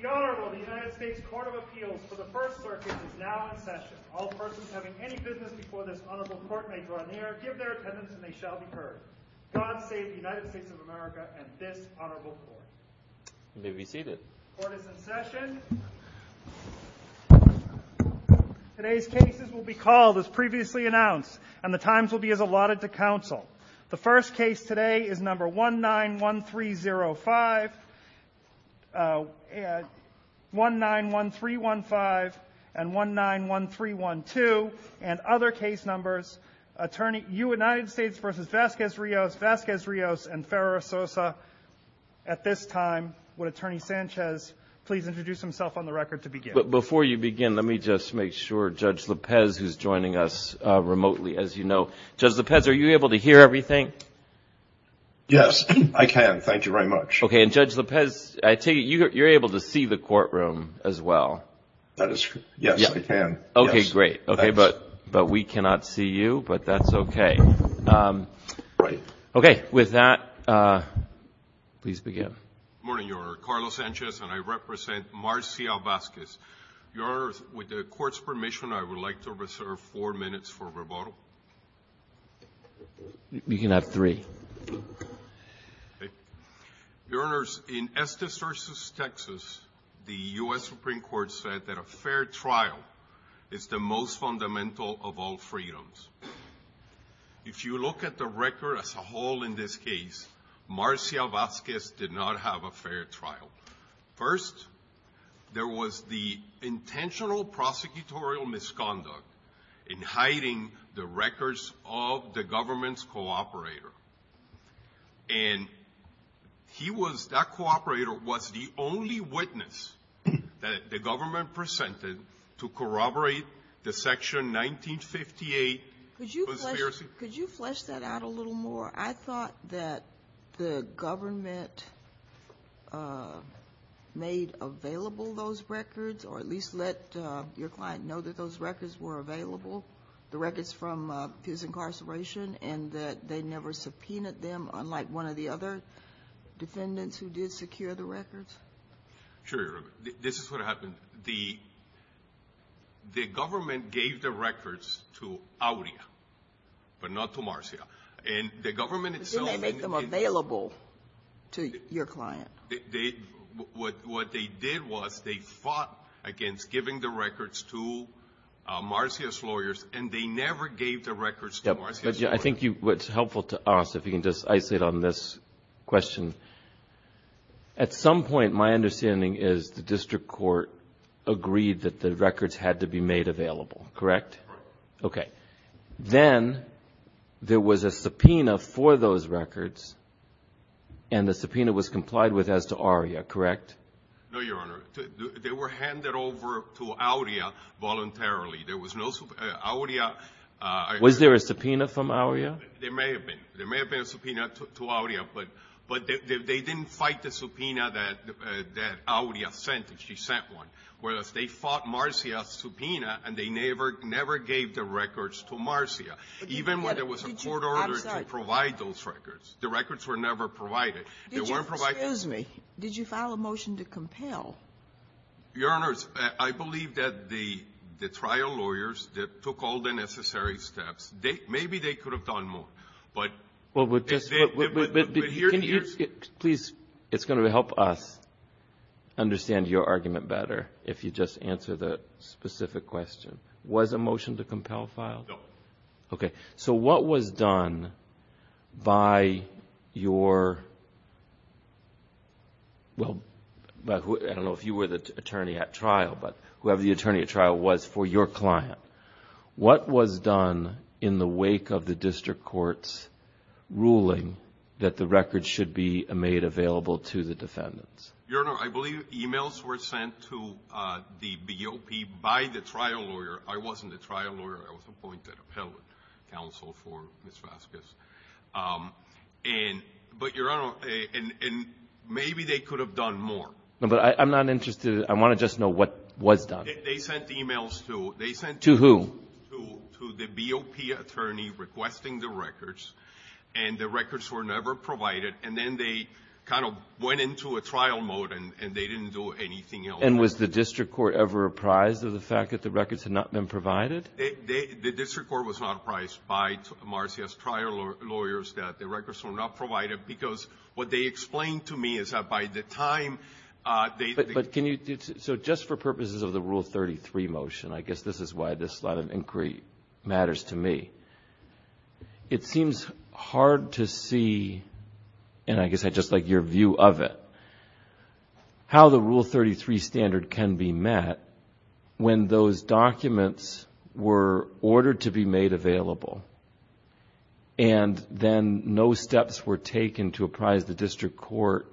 The Honorable United States Court of Appeals for the First Circuit is now in session. All persons having any business before this honorable court may go on air, give their attendance, and they shall be heard. God save the United States of America and this honorable court. You may be seated. Court is in session. Today's cases will be called as previously announced, and the times will be as allotted to counsel. The first case today is number 191305, 191315, and 191312, and other case numbers. Attorney, United States v. Vazquez-Rijos, Vazquez-Rijos, and Ferrara-Sosa. At this time, would Attorney Sanchez please introduce himself on the record to begin? Before you begin, let me just make sure. Judge Lopez is joining us remotely, as you know. Judge Lopez, are you able to hear everything? Yes, I can. Thank you very much. Okay, and Judge Lopez, I see you're able to see the courtroom as well. Yes, I can. Okay, great. Okay, but we cannot see you, but that's okay. Okay, with that, please begin. Good morning, Your Honor. Carlos Sanchez, and I represent Marcia Vazquez. Your Honor, with the Court's permission, I would like to reserve four minutes for rebuttal. You can have three. Your Honors, in Estes v. Texas, the U.S. Supreme Court said that a fair trial is the most fundamental of all freedoms. If you look at the record as a whole in this case, Marcia Vazquez did not have a fair trial. First, there was the intentional prosecutorial misconduct in hiding the records of the government's cooperator. And that cooperator was the only witness that the government presented to corroborate the Section 1958. Could you flesh that out a little more? Your Honor, I thought that the government made available those records, or at least let your client know that those records were available, the records from his incarceration, and that they never subpoenaed them, unlike one of the other defendants who did secure the records. Sure. This is what happened. The government gave the records to Audia, but not to Marcia. But didn't they make them available to your client? What they did was they fought against giving the records to Marcia's lawyers, and they never gave the records to Marcia's lawyers. I think it's helpful to ask, if you can just isolate on this question. At some point, my understanding is the district court agreed that the records had to be made available, correct? Correct. Then there was a subpoena for those records, and the subpoena was complied with as to Audia, correct? No, Your Honor. They were handed over to Audia voluntarily. Was there a subpoena from Audia? There may have been. There may have been a subpoena to Audia, but they didn't fight the subpoena that Audia sent, whereas they fought Marcia's subpoena, and they never gave the records to Marcia. Even when there was a court order to provide those records, the records were never provided. Excuse me. Did you file a motion to compel? Your Honor, I believe that the trial lawyers took all the necessary steps. Maybe they could have done more. Please, it's going to help us understand your argument better if you just answer the specific question. Was a motion to compel filed? No. Okay. So what was done by your – well, I don't know if you were the attorney at trial, but whoever the attorney at trial was for your client. What was done in the wake of the district court's ruling that the records should be made available to the defendants? Your Honor, I believe emails were sent to the BOP by the trial lawyer. I wasn't the trial lawyer. I was appointed appellate counsel for Ms. Vasquez. But, Your Honor, maybe they could have done more. I'm not interested. I want to just know what was done. They sent emails to – To who? To the BOP attorney requesting the records, and the records were never provided. And then they kind of went into a trial mode, and they didn't do anything else. And was the district court ever apprised of the fact that the records had not been provided? The district court was not apprised by Marcia's trial lawyers that the records were not provided because what they explained to me is that by the time they – But can you – so just for purposes of the Rule 33 motion, I guess this is why this lot of inquiry matters to me. It seems hard to see, and I guess I'd just like your view of it, how the Rule 33 standard can be met when those documents were ordered to be made available and then no steps were taken to apprise the district court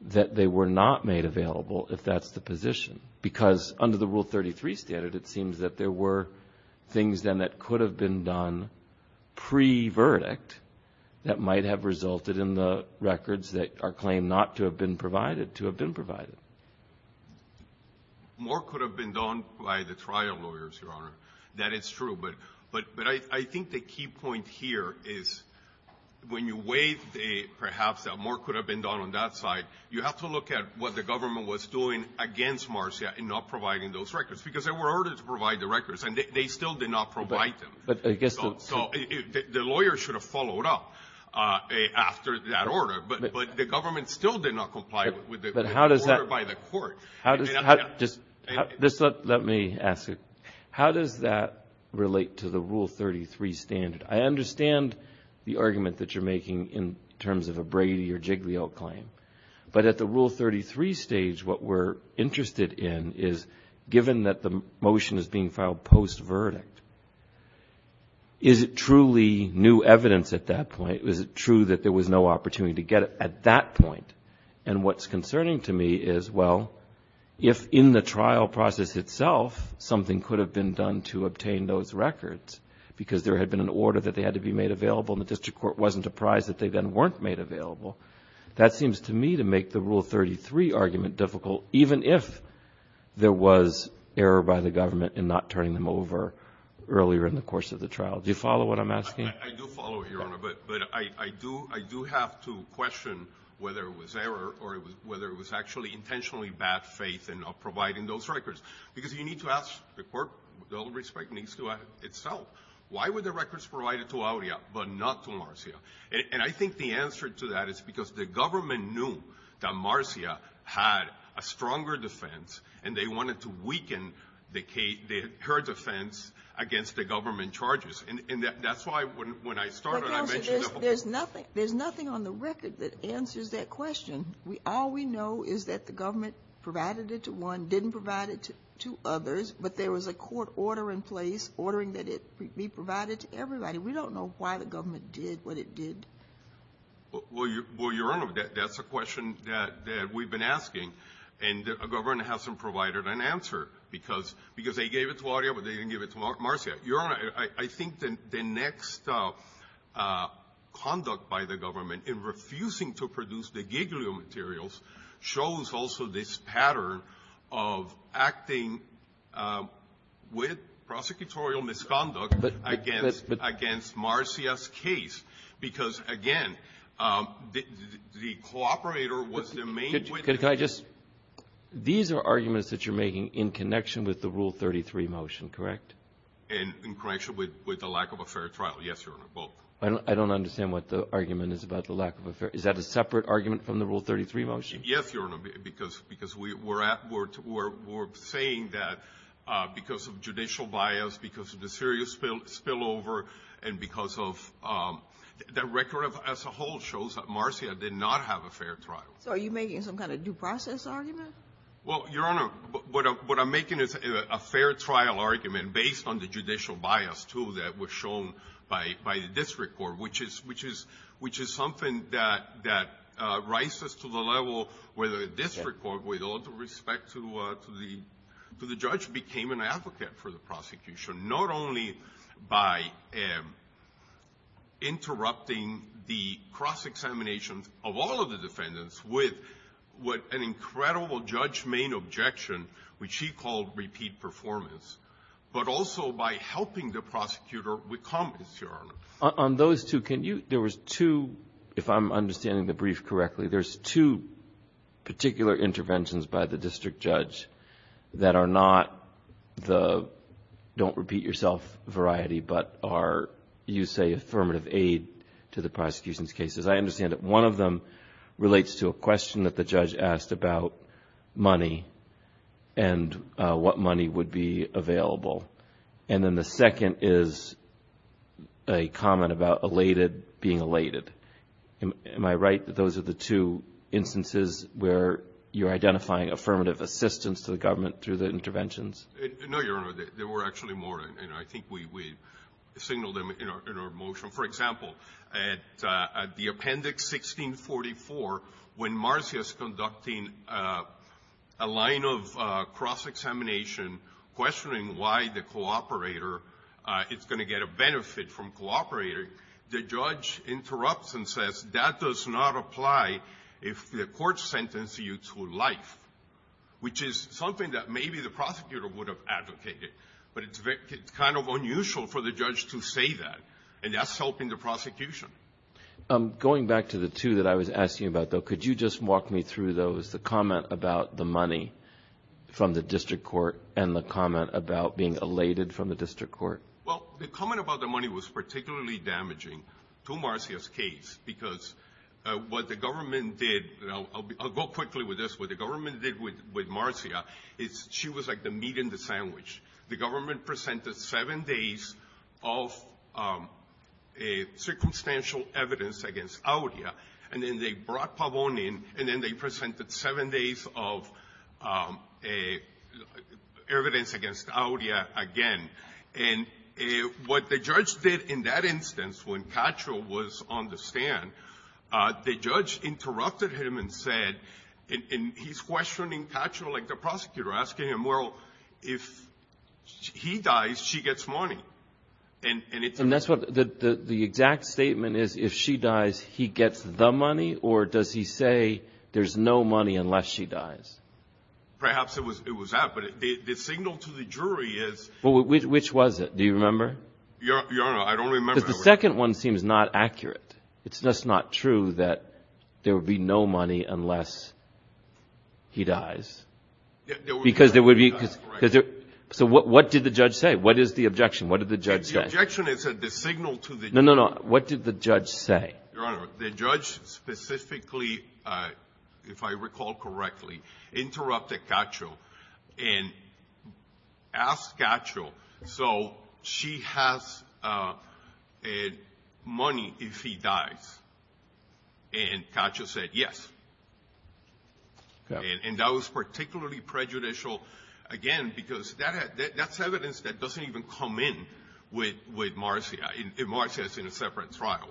that they were not made available if that's the position. Because under the Rule 33 standard, it seems that there were things then that could have been done pre-verdict that might have resulted in the records that are claimed not to have been provided to have been provided. More could have been done by the trial lawyers, Your Honor. That is true. But I think the key point here is when you weigh perhaps that more could have been done on that side, you have to look at what the government was doing against Marcia in not providing those records because there were orders to provide the records, and they still did not provide them. So the lawyers should have followed up after that order, but the government still did not comply with the order by the court. Let me ask you, how does that relate to the Rule 33 standard? I understand the argument that you're making in terms of a Brady or Jiglio claim, but at the Rule 33 stage, what we're interested in is given that the motion is being filed post-verdict, is it truly new evidence at that point? Is it true that there was no opportunity to get it at that point? And what's concerning to me is, well, if in the trial process itself something could have been done to obtain those records because there had been an order that they had to be made available and the district court wasn't apprised that they then weren't made available, that seems to me to make the Rule 33 argument difficult, even if there was error by the government in not turning them over earlier in the course of the trial. Do you follow what I'm asking? I do follow, Your Honor, but I do have to question whether it was error or whether it was actually intentionally bad faith in not providing those records because you need to ask the court, with all due respect, needs to ask itself, why were the records provided to Aurea but not to Marcia? And I think the answer to that is because the government knew that Marcia had a stronger defense and they wanted to weaken her defense against the government charges. There's nothing on the record that answers that question. All we know is that the government provided it to one, didn't provide it to others, but there was a court order in place ordering that it be provided to everybody. We don't know why the government did what it did. Well, Your Honor, that's a question that we've been asking and the government hasn't provided an answer because they gave it to Aurea but they didn't give it to Marcia. Your Honor, I think the next conduct by the government in refusing to produce the Giglio materials shows also this pattern of acting with prosecutorial misconduct against Marcia's case because, again, the cooperator was the main witness. These are arguments that you're making in connection with the Rule 33 motion, correct? In connection with the lack of a fair trial, yes, Your Honor, both. I don't understand what the argument is about the lack of a fair – is that a separate argument from the Rule 33 motion? Yes, Your Honor, because we're saying that because of judicial bias, because of the serious spillover, and because of – the record as a whole shows that Marcia did not have a fair trial. Are you making some kind of due process argument? Well, Your Honor, what I'm making is a fair trial argument based on the judicial bias, too, that was shown by the district court, which is something that rises to the level where the district court, with all due respect to the judge, became an advocate for the prosecution, not only by interrupting the cross-examination of all of the defendants with an incredible judge-made objection, which she called repeat performance, but also by helping the prosecutor with competency arguments. On those two, can you – there was two – if I'm understanding the brief correctly, there's two particular interventions by the district judge that are not the don't-repeat-yourself variety, but are, you say, affirmative aid to the prosecution's cases. I understand that one of them relates to a question that the judge asked about money and what money would be available. And then the second is a comment about elated being elated. Am I right that those are the two instances where you're identifying affirmative assistance to the government through the interventions? No, Your Honor, there were actually more, and I think we signaled them in our motion. For example, at the Appendix 1644, when Marcia's conducting a line of cross-examination, questioning why the cooperator is going to get a benefit from cooperating, the judge interrupts and says, that does not apply if the court sentences you to life, which is something that maybe the prosecutor would have advocated. But it's kind of unusual for the judge to say that, and that's helping the prosecution. Going back to the two that I was asking about, though, could you just walk me through those, the comment about the money from the district court and the comment about being elated from the district court? Well, the comment about the money was particularly damaging to Marcia's case because what the government did, and I'll go quickly with this, what the government did with Marcia is she was like the meat in the sandwich. The government presented seven days of circumstantial evidence against Audia, and then they brought Pavone in, and then they presented seven days of evidence against Audia again. And what the judge did in that instance when Cattrall was on the stand, the judge interrupted him and said, and he's questioning Cattrall like the prosecutor, asking him, well, if he dies, she gets money. And that's what the exact statement is. If she dies, he gets the money, or does he say there's no money unless she dies? Perhaps it was that, but the signal to the jury is... Which was it? Do you remember? Your Honor, I don't remember. Because the second one seems not accurate. It's just not true that there would be no money unless he dies. Because there would be... So what did the judge say? What is the objection? What did the judge say? The objection is that the signal to the jury... No, no, no. What did the judge say? Your Honor, the judge specifically, if I recall correctly, interrupted Cattrall and asked Cattrall, so she has money if he dies, and Cattrall said yes. And that was particularly prejudicial, again, because that's evidence that doesn't even come in with Marcia. Marcia is in a separate trial.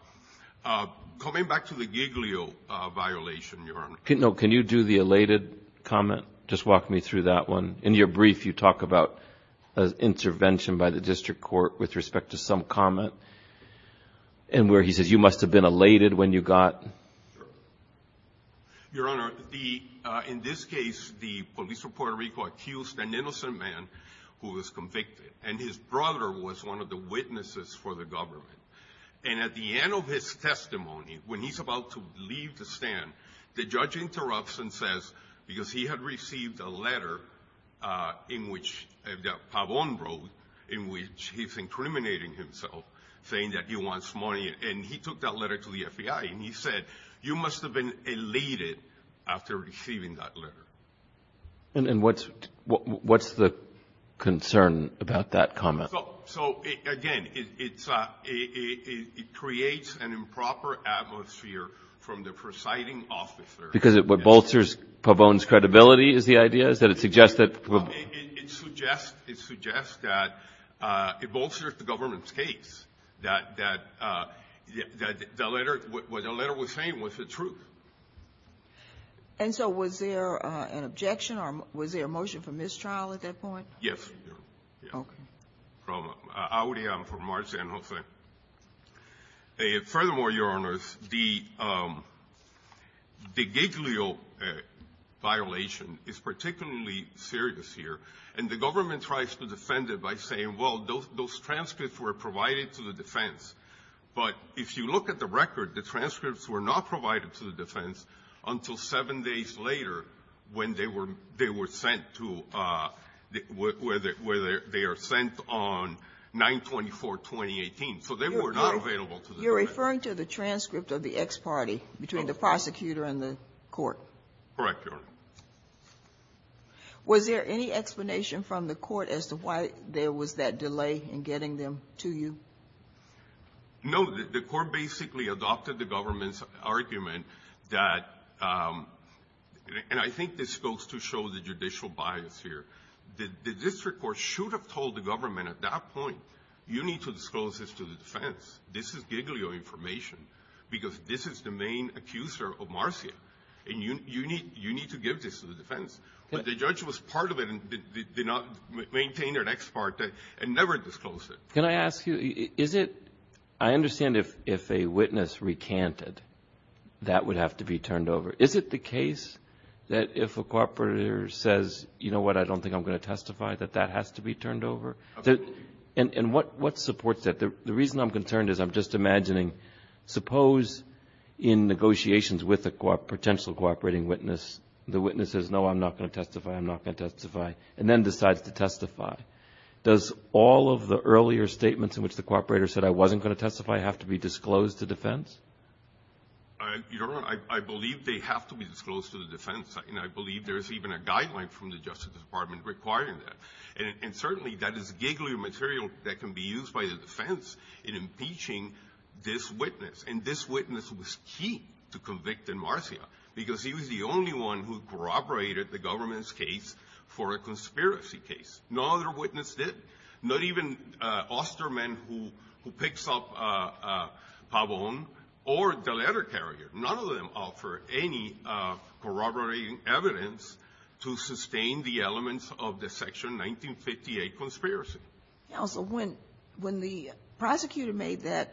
Coming back to the Giglio violation, Your Honor. Can you do the elated comment? Just walk me through that one. In your brief, you talk about an intervention by the district court with respect to some comment, and where he says you must have been elated when you got... Your Honor, in this case, the police of Puerto Rico accused an innocent man who was convicted, and his brother was one of the witnesses for the government. And at the end of his testimony, when he's about to leave the stand, the judge interrupts and says, because he had received a letter that Pavon wrote in which he's incriminating himself, saying that he wants money, and he took that letter to the FBI, and he said, you must have been elated after receiving that letter. And what's the concern about that comment? So, again, it creates an improper atmosphere from the presiding officer. Because it bolsters Pavon's credibility, is the idea? It suggests that it bolsters the government's case, that what the letter was saying was the truth. And so was there an objection, or was there a motion for mistrial at that point? Yes. Okay. I'm from Marciano. Furthermore, Your Honor, the Giglio violation is particularly serious here, and the government tries to defend it by saying, well, those transcripts were provided to the defense. But if you look at the record, the transcripts were not provided to the defense until seven days later when they were sent on 9-24-2018. So they were not available to the defense. You're referring to the transcript of the ex parte between the prosecutor and the court? Correct, Your Honor. Was there any explanation from the court as to why there was that delay in getting them to you? No, the court basically adopted the government's argument that, and I think this goes to show the judicial bias here. The district court should have told the government at that point, you need to disclose this to the defense. This is Giglio information because this is the main accuser of Marciano, and you need to give this to the defense. But the judge was part of it and did not maintain their ex parte and never disclosed it. Can I ask you, I understand if a witness recanted, that would have to be turned over. Is it the case that if a cooperator says, you know what, I don't think I'm going to testify, that that has to be turned over? And what supports that? The reason I'm concerned is I'm just imagining, suppose in negotiations with a potential cooperating witness, the witness says, no, I'm not going to testify, I'm not going to testify, and then decides to testify. Does all of the earlier statements in which the cooperator said, I wasn't going to testify, have to be disclosed to defense? I believe they have to be disclosed to the defense, and I believe there is even a guideline from the Justice Department requiring that. And certainly that is Giglio material that can be used by the defense in impeaching this witness, and this witness was key to convicting Marciano because he was the only one who corroborated the government's case for a conspiracy case, no other witness did, not even Osterman, who picks up Pabon, or the letter carrier. None of them offered any corroborating evidence to sustain the elements of the Section 1958 conspiracy. Counsel, when the prosecutor made the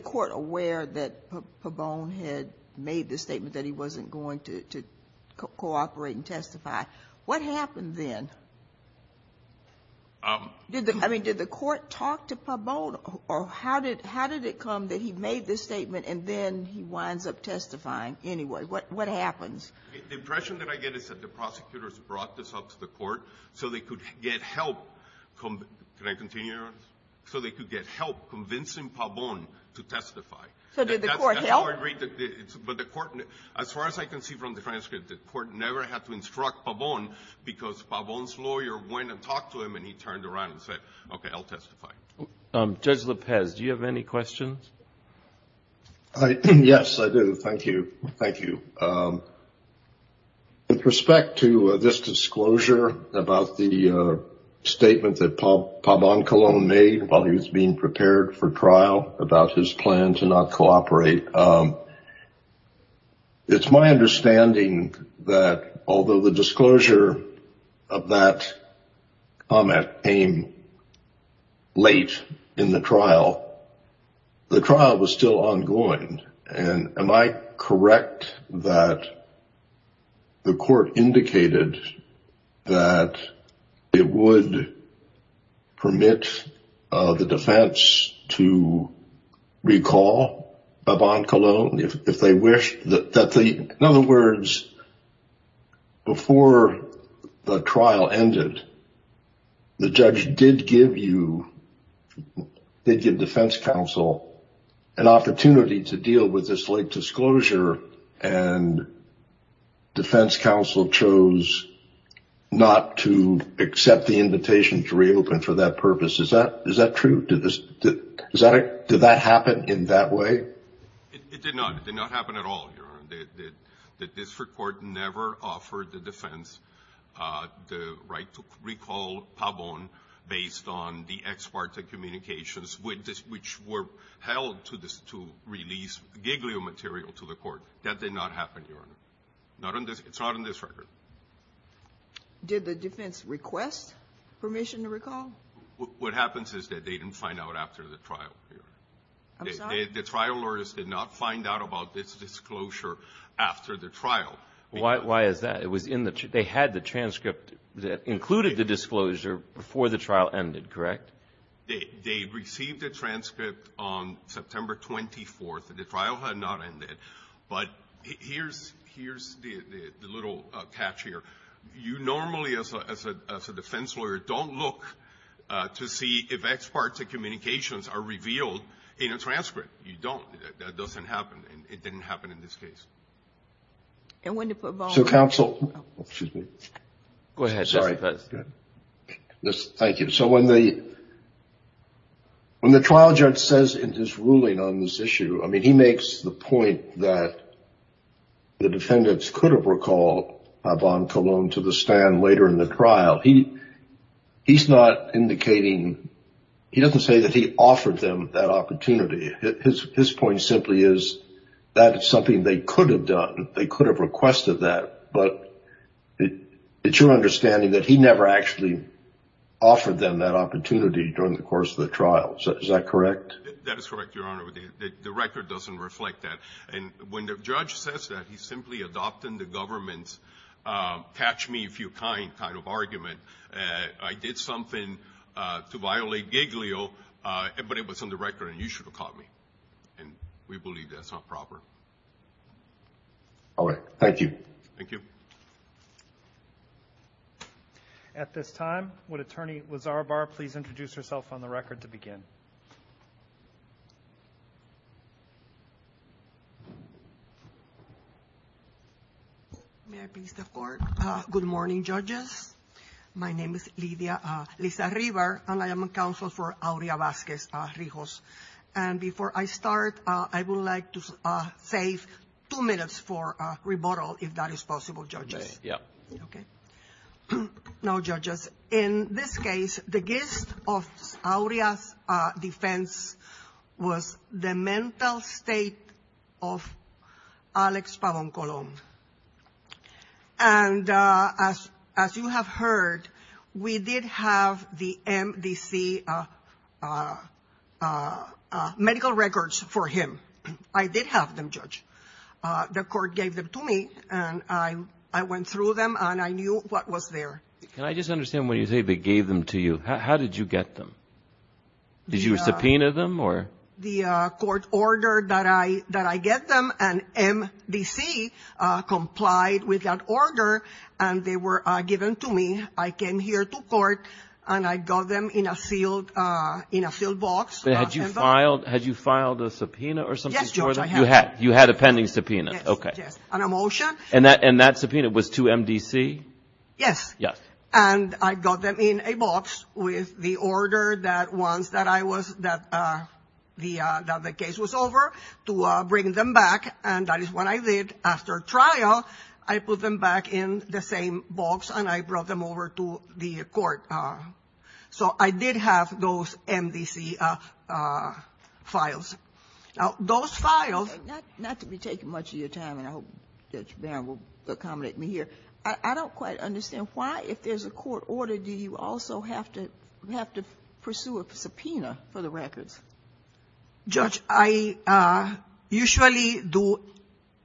court aware that Pabon had made the statement that he wasn't going to cooperate and testify, what happened then? Did the court talk to Pabon, or how did it come that he made this statement and then he winds up testifying anyway? What happens? The impression that I get is that the prosecutors brought this up to the court so they could get help convincing Pabon to testify. So did the court help? As far as I can see from the transcript, the court never had to instruct Pabon because Pabon's lawyer went and talked to him and he turned around and said, okay, I'll testify. Judge Lopez, do you have any questions? Yes, I do. Thank you. With respect to this disclosure about the statement that Pabon Colon made about his being prepared for trial, about his plan to not cooperate, it's my understanding that although the disclosure of that comment came late in the trial, the trial was still ongoing. Am I correct that the court indicated that it would permit the defense to recall Pabon Colon if they wished? In other words, before the trial ended, the judge did give defense counsel an opportunity to deal with this late disclosure and defense counsel chose not to accept the invitation to reopen for that purpose. Is that true? Did that happen in that way? It did not. It did not happen at all, Your Honor. This report never offered the defense the right to recall Pabon based on the ex parte communications which were held to release giglio material to the court. That did not happen, Your Honor. It's not on this record. Did the defense request permission to recall? What happens is that they didn't find out after the trial. The trial lawyers did not find out about this disclosure after the trial. Why is that? They had the transcript that included the disclosure before the trial ended, correct? They received the transcript on September 24th. The trial had not ended. But here's the little catch here. You normally, as a defense lawyer, don't look to see if ex parte communications are revealed in a transcript. You don't. That doesn't happen. It didn't happen in this case. And when did Pabon— So counsel—excuse me. Go ahead. Sorry. Thank you. So when the trial judge says in his ruling on this issue, I mean, he makes the point that the defendants could have recalled Pabon Cologne to the stand later in the trial. He's not indicating—he doesn't say that he offered them that opportunity. His point simply is that is something they could have done. They could have requested that. But it's your understanding that he never actually offered them that opportunity during the course of the trial. Is that correct? That is correct, Your Honor. The record doesn't reflect that. And when the judge says that, he's simply adopting the government's catch-me-if-you-kind kind of argument. I did something to violate Giglio, but it was on the record, and you should have caught me. And we believe that's not proper. All right. Thank you. Thank you. At this time, would Attorney Lazarovar please introduce herself on the record to begin? May I please start? Good morning, judges. My name is Liza Rivar, and I am a counsel for Aurea Vasquez-Rijos. And before I start, I would like to save two minutes for rebuttal, if that is possible, judges. Okay. Okay. Now, judges, in this case, the gift of Aurea's defense was the mental state of Alex Pabon-Colomb. And as you have heard, we did have the MDC medical records for him. I did have them, Judge. The court gave them to me, and I went through them, and I knew what was there. Can I just understand what you say, they gave them to you? How did you get them? Did you subpoena them? The court ordered that I get them, and MDC complied with that order, and they were given to me. I came here to court, and I got them in a sealed box. Had you filed a subpoena or something for them? Yes, Judge, I had. You had a pending subpoena. Yes. And a motion. And that subpoena was to MDC? Yes. Yes. And I got them in a box with the order that once the case was over, to bring them back. And that is what I did. After trial, I put them back in the same box, and I brought them over to the court. So I did have those MDC files. Now, those files... Not to be taking much of your time, and I hope Judge Barron will accommodate me here. I don't quite understand. Why, if there's a court order, do you also have to pursue a subpoena for the records? Judge, I usually do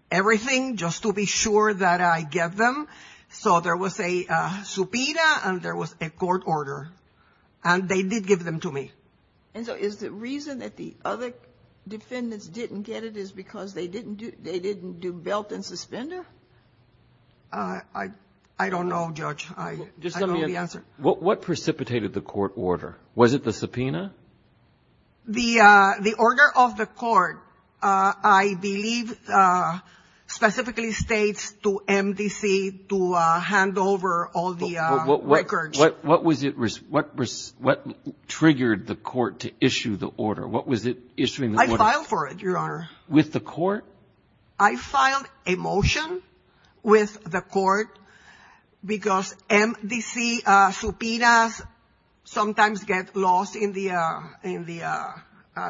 everything just to be sure that I get them. So there was a subpoena, and there was a court order, and they did give them to me. And so is the reason that the other defendants didn't get it is because they didn't do belt and suspender? I don't know, Judge. I don't know the answer. What precipitated the court order? Was it the subpoena? The order of the court, I believe, specifically states to MDC to hand over all the records. What triggered the court to issue the order? What was it issuing the order? I filed for it, Your Honor. With the court? I filed a motion with the court because MDC subpoenas sometimes get lost in the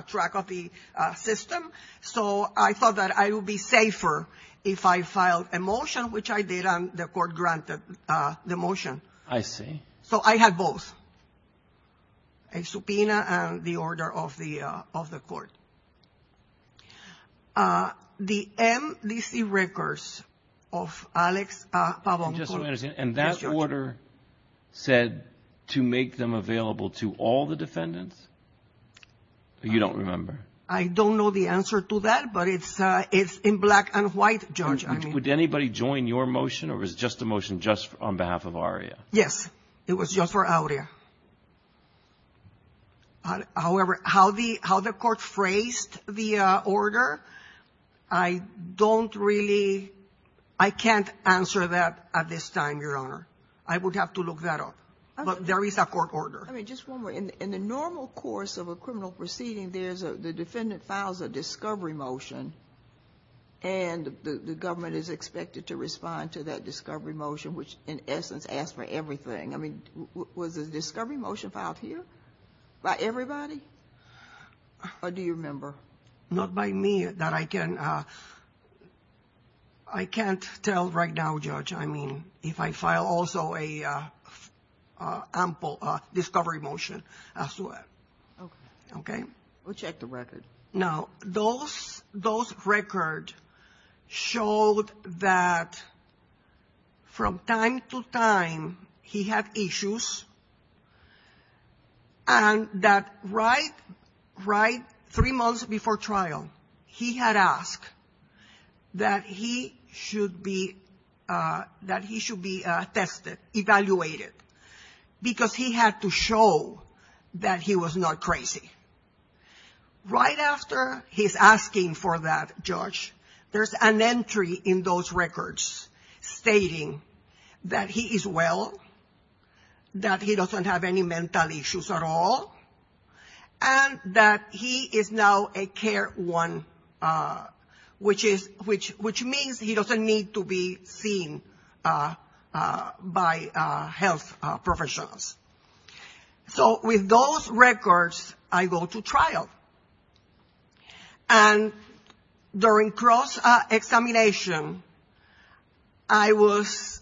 track of the system. So I thought that I would be safer if I filed a motion, which I did, and the court granted the motion. I see. So I had both, a subpoena and the order of the court. The MDC records of Alex Pavoncourt. And that order said to make them available to all the defendants? You don't remember. I don't know the answer to that, but it's in black and white, Judge. Would anybody join your motion, or was it just a motion just on behalf of ARIA? Yes. It was just for ARIA. However, how the court phrased the order, I don't really, I can't answer that at this time, Your Honor. I would have to look that up. But there is a court order. Just one more. In the normal course of a criminal proceeding, the defendant files a discovery motion, and the government is expected to respond to that discovery motion, which in essence asks for everything. I mean, was a discovery motion filed here by everybody? Or do you remember? Not by me, that I can't tell right now, Judge. I mean, if I file also a discovery motion as to it. Okay. We'll check the record. Now, those records showed that from time to time he had issues, and that right three months before trial, he had asked that he should be tested, evaluated, because he had to show that he was not crazy. Right after his asking for that, Judge, there's an entry in those records stating that he is well, that he doesn't have any mental issues at all, and that he is now a care one, which means he doesn't need to be seen by health professionals. So with those records, I go to trial. And during cross-examination, I was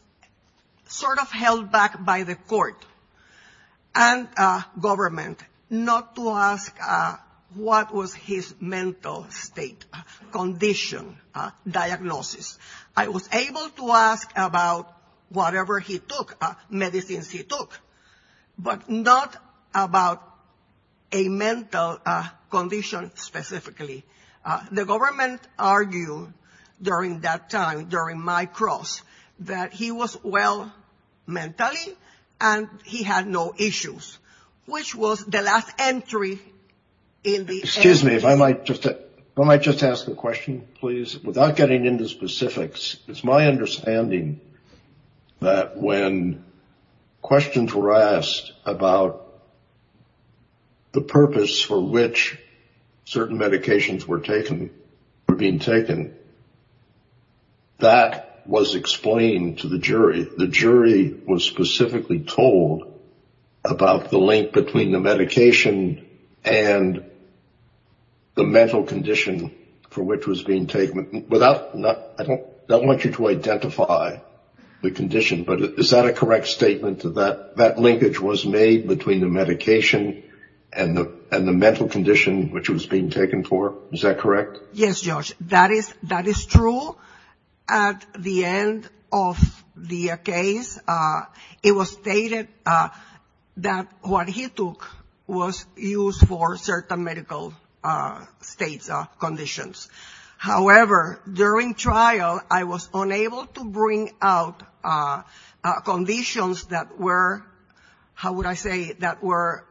sort of held back by the court and government, not to ask what was his mental condition, diagnosis. I was able to ask about whatever he took, medicines he took, but not about a mental condition specifically. The government argued during that time, during my cross, that he was well mentally and he had no issues, which was the last entry in the entry. Excuse me, if I might just ask a question, please, without getting into specifics. It's my understanding that when questions were asked about the purpose for which certain medications were being taken, that was explained to the jury. The jury was specifically told about the link between the medication and the mental condition for which it was being taken. I don't want you to identify the condition, but is that a correct statement, that that linkage was made between the medication and the mental condition which it was being taken for? Is that correct? Yes, Josh, that is true. At the end of the case, it was stated that what he took was used for certain medical state conditions. However, during trial, I was unable to bring out conditions that were, how would I say, that were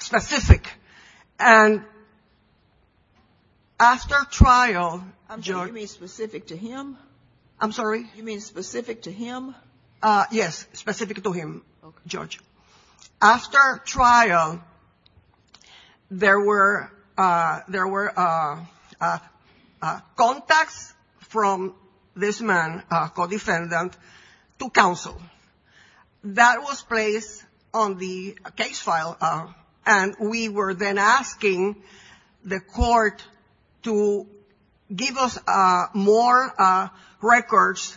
specific. After trial- You mean specific to him? I'm sorry? You mean specific to him? Yes, specific to him, Judge. After trial, there were contacts from this man, co-defendant, to counsel. That was placed on the case file, and we were then asking the court to give us more records.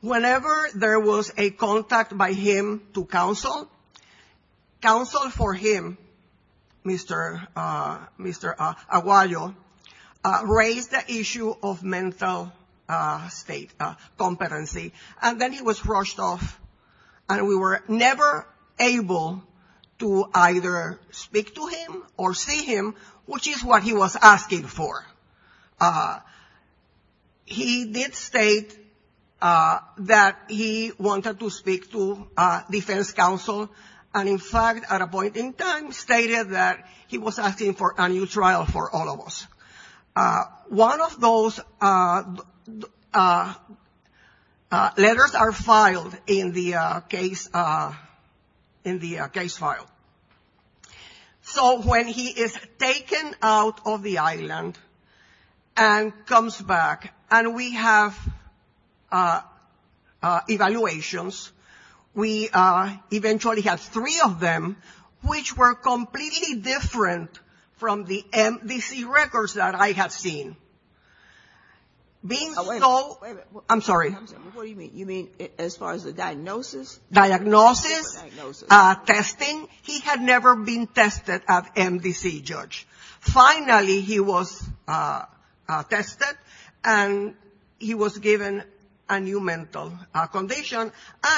Whenever there was a contact by him to counsel, counsel for him, Mr. Aguayo, raised the issue of mental competency. And then he was rushed off, and we were never able to either speak to him or see him, which is what he was asking for. He did state that he wanted to speak to defense counsel, and in fact, at a point in time, stated that he was asking for a new trial for all of us. One of those letters are filed in the case file. So when he is taken out of the island and comes back, and we have evaluations, we eventually have three of them, which were completely different from the MDC records that I have seen. Being so- I'm sorry? What do you mean? You mean as far as the diagnosis? Diagnosis, testing, he had never been tested at MDC, Judge. Finally, he was tested, and he was given a new mental condition,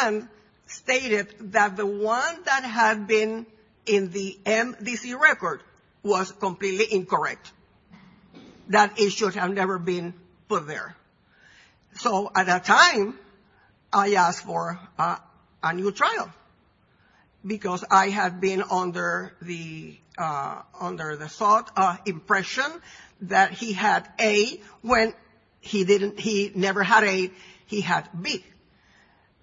and stated that the one that had been in the MDC record was completely incorrect. That issue had never been put there. So at that time, I asked for a new trial, because I had been under the impression that he had A, when he never had A, he had B.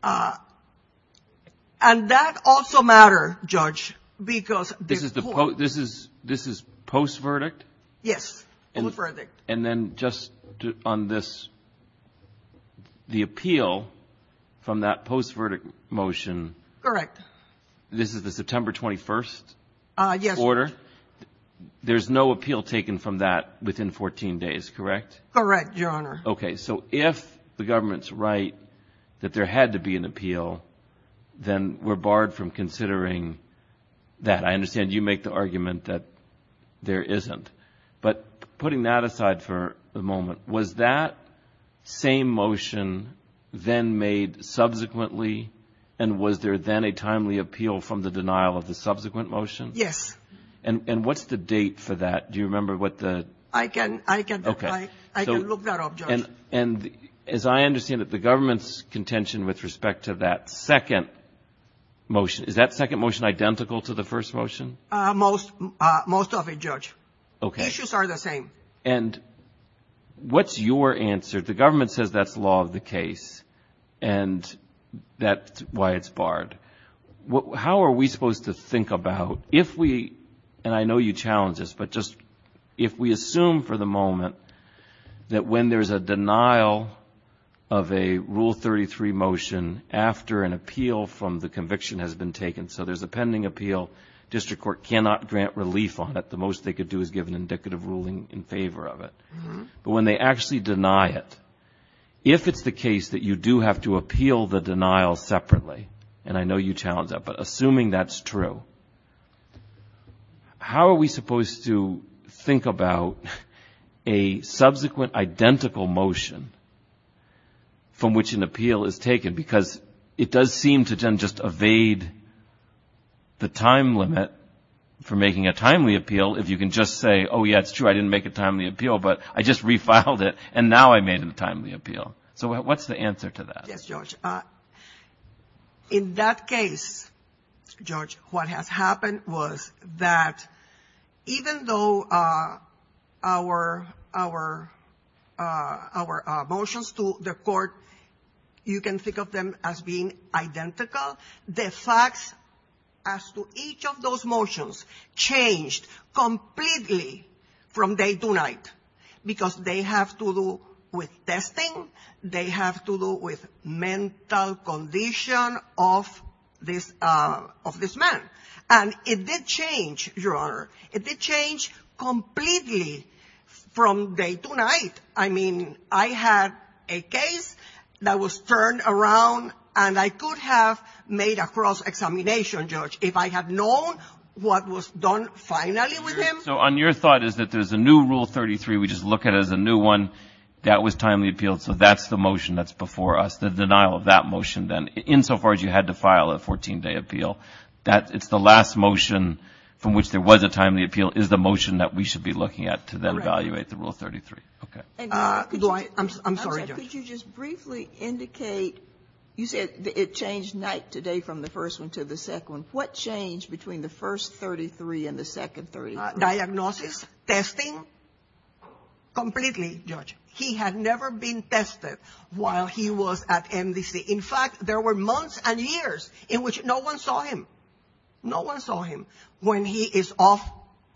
And that also mattered, Judge, because- This is post-verdict? Yes, post-verdict. And then just on this, the appeal from that post-verdict motion- Correct. This is the September 21st order? Yes. There's no appeal taken from that within 14 days, correct? Correct, Your Honor. Okay, so if the government's right that there had to be an appeal, then we're barred from considering that. I understand you make the argument that there isn't. But putting that aside for the moment, was that same motion then made subsequently, and was there then a timely appeal from the denial of the subsequent motion? Yes. And what's the date for that? Do you remember what the- I can look that up, Judge. And as I understand it, the government's contention with respect to that second motion, is that second motion identical to the first motion? Most of it, Judge. Okay. They just are the same. And what's your answer? The government says that's law of the case, and that's why it's barred. How are we supposed to think about if we- and I know you challenge this- but just if we assume for the moment that when there's a denial of a Rule 33 motion after an appeal from the conviction has been taken, so there's a pending appeal, district court cannot grant relief on it. The most they could do is give an indicative ruling in favor of it. But when they actually deny it, if it's the case that you do have to appeal the denial separately, and I know you challenge that, but assuming that's true, how are we supposed to think about a subsequent identical motion from which an appeal is taken? Because it does seem to then just evade the time limit for making a timely appeal if you can just say, oh, yeah, it's true, I didn't make a timely appeal, but I just refiled it, and now I made a timely appeal. So what's the answer to that? Yes, Judge. In that case, Judge, what has happened was that even though our motions to the court, you can think of them as being identical, the fact as to each of those motions changed completely from day to night because they have to do with testing, they have to do with mental condition of this man. And it did change, Your Honor, it did change completely from day to night. I mean, I had a case that was turned around, and I could have made a cross-examination, Judge, if I had known what was done finally with him. So on your thought is that there's a new Rule 33, we just look at it as a new one, that was timely appeal, so that's the motion that's before us, the denial of that motion then, insofar as you had to file a 14-day appeal. It's the last motion from which there was a timely appeal is the motion that we should be looking at to then evaluate the Rule 33. I'm sorry, Judge. Could you just briefly indicate, you said it changed night to day from the first one to the second one. What changed between the first 33 and the second 33? Diagnosis, testing, completely, Judge. He had never been tested while he was at MDC. In fact, there were months and years in which no one saw him. No one saw him. When he is off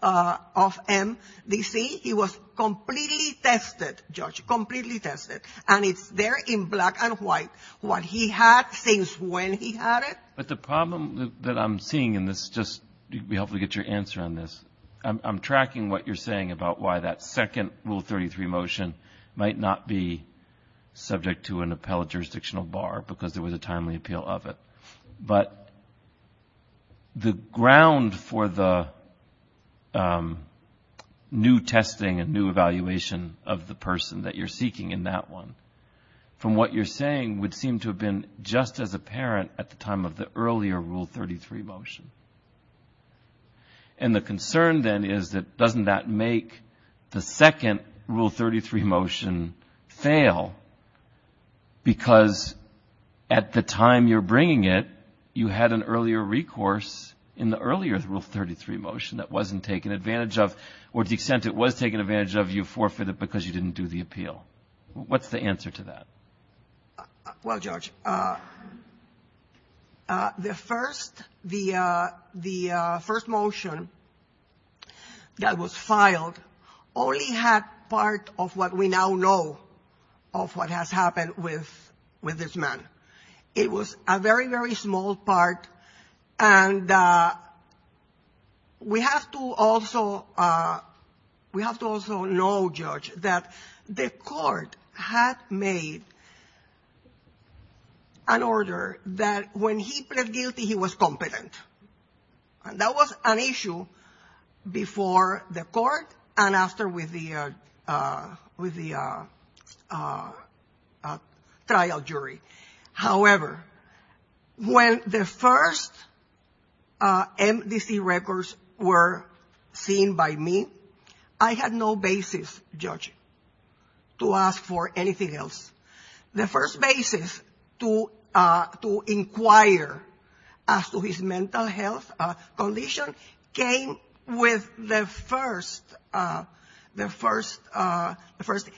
MDC, he was completely tested, Judge, completely tested. And it's there in black and white what he had since when he had it. But the problem that I'm seeing in this, just to help me get your answer on this, I'm tracking what you're saying about why that second Rule 33 motion might not be subject to an appellate jurisdictional bar because there was a timely appeal of it. But the ground for the new testing and new evaluation of the person that you're seeking in that one, from what you're saying, would seem to have been just as apparent at the time of the earlier Rule 33 motion. And the concern, then, is that doesn't that make the second Rule 33 motion fail because at the time you're bringing it, you had an earlier recourse in the earlier Rule 33 motion that wasn't taken advantage of or to the extent it was taken advantage of, you forfeited because you didn't do the appeal. What's the answer to that? Well, Judge, the first motion that was filed only had part of what we now know of what has happened with this man. It was a very, very small part. And we have to also know, Judge, that the court had made an order that when he pled guilty, he was competent. And that was an issue before the court and after with the trial jury. However, when the first MVC records were seen by me, I had no basis, Judge, to ask for anything else. The first basis to inquire as to his mental health condition came with the first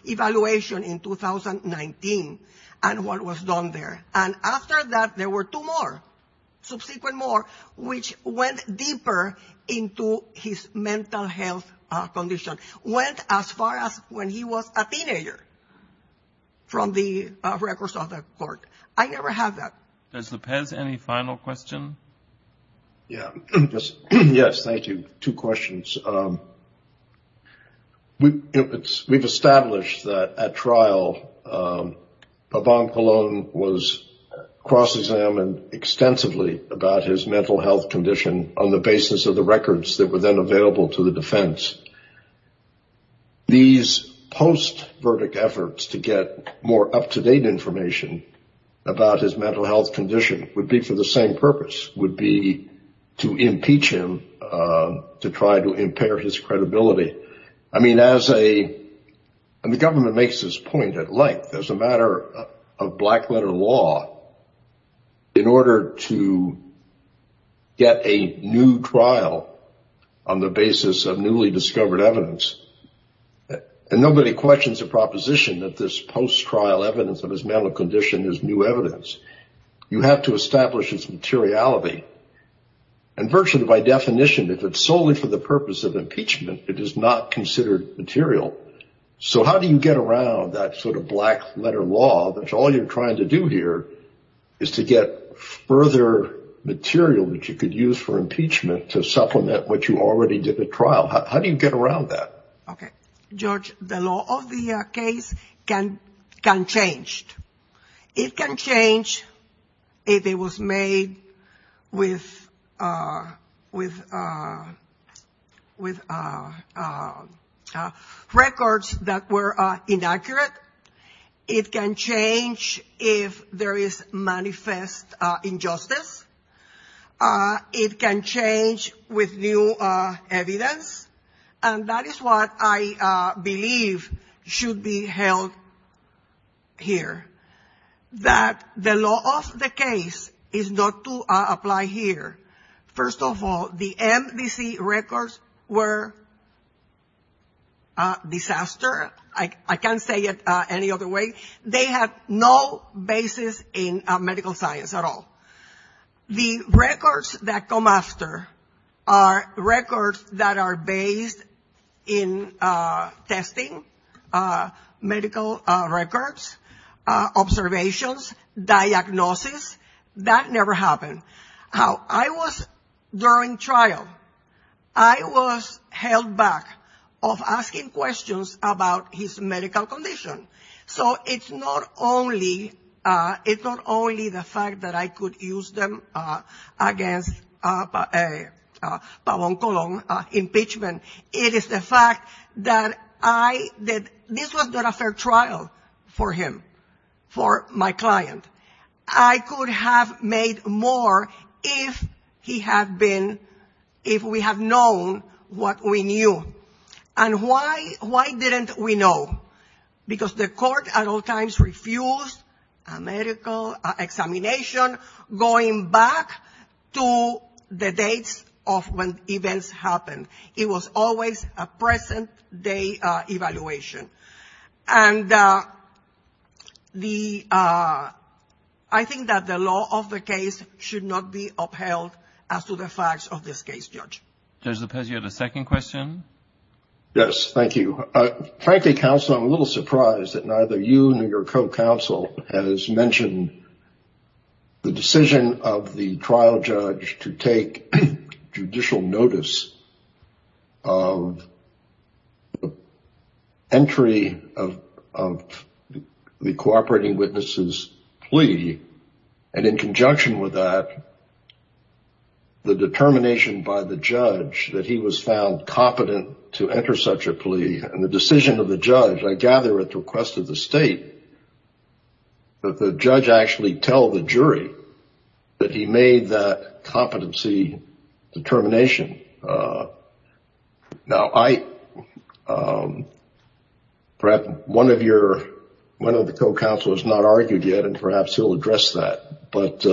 evaluation in 2019 and what was done there. And after that, there were two more, subsequent more, which went deeper into his mental health condition, went as far as when he was a teenager from the records of the court. I never had that. Does the panel have any final questions? Yes, thank you. Two questions. We've established that at trial, Yvonne Colon was cross-examined extensively about his mental health condition on the basis of the records that were then available to the defense. These post-verdict efforts to get more up-to-date information about his mental health condition would be for the same purpose, would be to impeach him, to try to impair his credibility. I mean, the government makes this point at length. As a matter of black-letter law, in order to get a new trial on the basis of newly discovered evidence, and nobody questions the proposition that this post-trial evidence of his mental condition is new evidence. You have to establish its materiality. And virtually, by definition, if it's solely for the purpose of impeachment, it is not considered material. So how do you get around that sort of black-letter law, which all you're trying to do here is to get further material that you could use for impeachment to supplement what you already did at trial? How do you get around that? George, the law of the case can change. It can change if it was made with records that were inaccurate. It can change if there is manifest injustice. It can change with new evidence. And that is what I believe should be held here, that the law of the case is not to apply here. First of all, the MDC records were a disaster. I can't say it any other way. They have no basis in medical science at all. The records that come after are records that are based in testing, medical records, observations, diagnosis. That never happened. How I was during trial, I was held back of asking questions about his medical condition. So it's not only the fact that I could use them against Pablo Colón impeachment, it is the fact that this was not a fair trial for him, for my client. I could have made more if we had known what we knew. And why didn't we know? Because the court at all times refused a medical examination going back to the date of when events happened. It was always a present-day evaluation. And I think that the law of the case should not be upheld as to the facts of this case, George. Judge Lopez, you had a second question? Yes, thank you. Frankly, counsel, I'm a little surprised that neither you nor your co-counsel has mentioned the decision of the trial judge to take judicial notice of entry of the cooperating witness's plea, and in conjunction with that, the determination by the judge that he was found competent to enter such a plea, and the decision of the judge, I gather at the request of the state, that the judge actually tell the jury that he made that competency determination. Now, perhaps one of the co-counsel has not argued yet, and perhaps he'll address that. But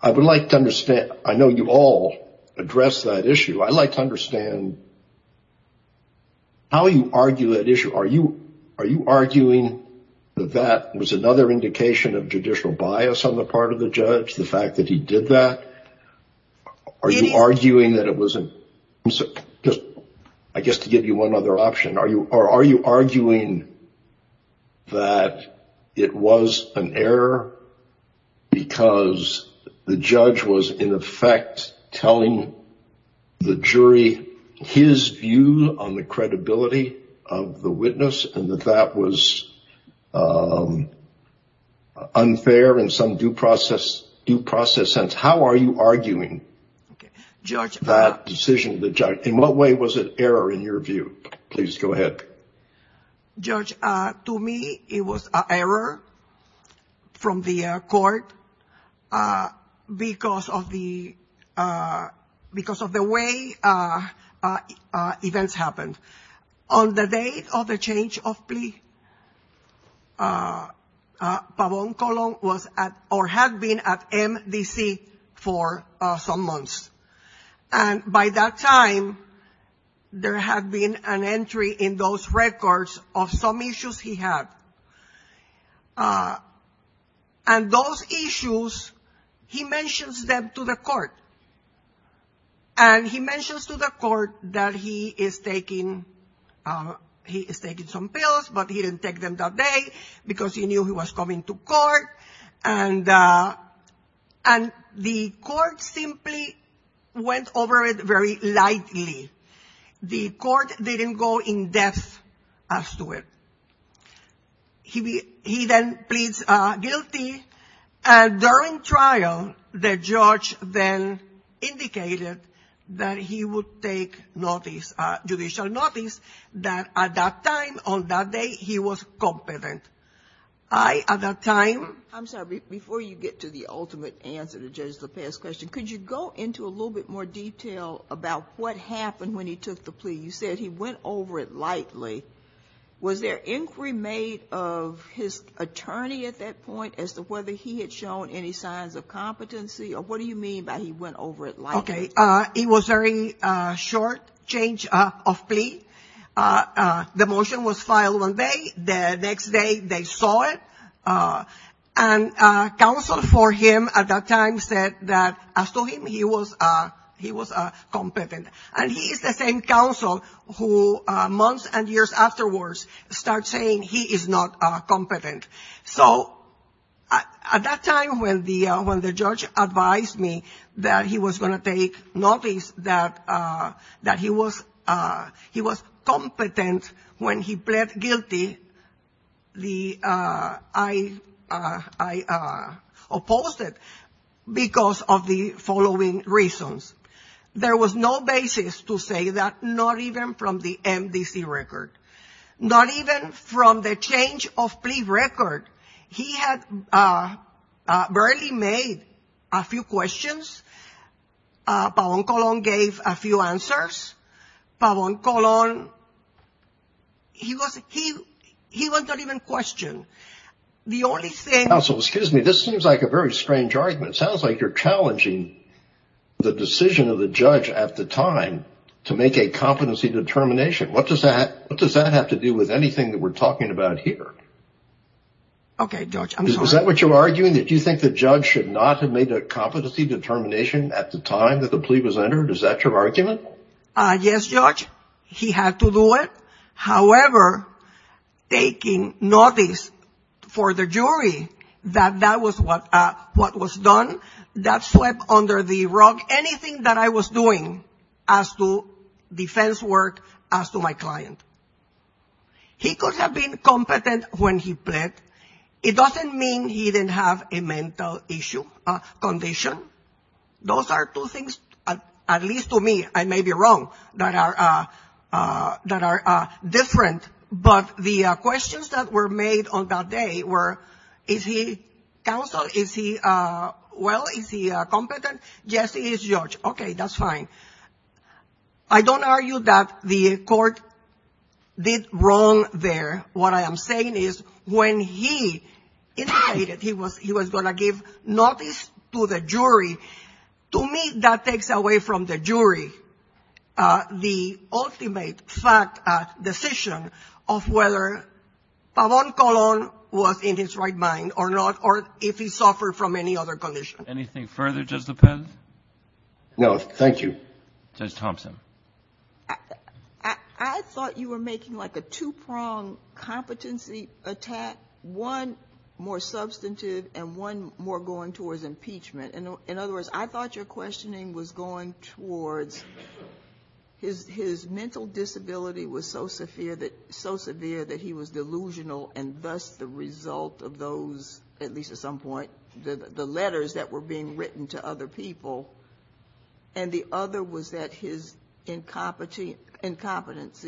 I would like to understand. I know you all addressed that issue. I'd like to understand how you argue that issue. Are you arguing that that was another indication of judicial bias on the part of the judge, the fact that he did that? Are you arguing that it was a—I guess to give you one other option, are you arguing that it was an error because the judge was, in effect, telling the jury his view on the credibility of the witness, and that that was unfair in some due process sense? How are you arguing that decision of the judge? In what way was it error in your view? Please go ahead. Judge, to me, it was an error from the court because of the way events happened. On the day of the change of plea, Pabon Colon had been at MDC for some months. And by that time, there had been an entry in those records of some issues he had. And those issues, he mentions them to the court. And he mentions to the court that he is taking some pills, but he didn't take them that day because he knew he was coming to court. And the court simply went over it very lightly. The court didn't go in depth as to it. He then pleads guilty. During trial, the judge then indicated that he would take judicial notice that at that time, on that day, he was competent. I, at that time- I'm sorry, before you get to the ultimate answer to Judge Lopez's question, could you go into a little bit more detail about what happened when he took the plea? You said he went over it lightly. Was there inquiry made of his attorney at that point as to whether he had shown any signs of competency, or what do you mean by he went over it lightly? Okay. It was a very short change of plea. The motion was filed one day. The next day, they saw it. And counsel for him at that time said that, as to him, he was competent. And he is the same counsel who, months and years afterwards, starts saying he is not competent. So, at that time, when the judge advised me that he was going to take notice that he was competent when he pled guilty, I opposed it because of the following reasons. There was no basis to say that, not even from the MDC record. Not even from the change of plea record. He had barely made a few questions. Pabon Colon gave a few answers. Pabon Colon, he wasn't even questioned. The only thing- Counsel, excuse me, this seems like a very strange argument. It sounds like you're challenging the decision of the judge at the time to make a competency determination. What does that have to do with anything that we're talking about here? Okay, Judge. Is that what you're arguing? That you think the judge should not have made a competency determination at the time that the plea was entered? Is that your argument? Yes, Judge. He had to do it. However, taking notice for the jury that that was what was done, that swept under the rug anything that I was doing as to defense work, as to my client. He could have been competent when he pled. It doesn't mean he didn't have a mental condition. Those are two things, at least to me, I may be wrong, that are different. But the questions that were made on that day were, is he counsel? Is he, well, is he competent? Yes, he is, Judge. Okay, that's fine. I don't argue that the court did wrong there. What I am saying is, when he pleaded, he was going to give notice to the jury. To me, that takes away from the jury the ultimate fact, decision of whether Pavon Colon was in his right mind or not, or if he suffered from any other condition. Anything further, Judge Lopez? No, thank you. Judge Thompson. I thought you were making like a two-pronged competency attack, one more substantive and one more going towards impeachment. In other words, I thought your questioning was going towards his mental disability was so severe that he was delusional, and thus the result of those, at least at some point, the letters that were being written to other people, and the other was that his incompetency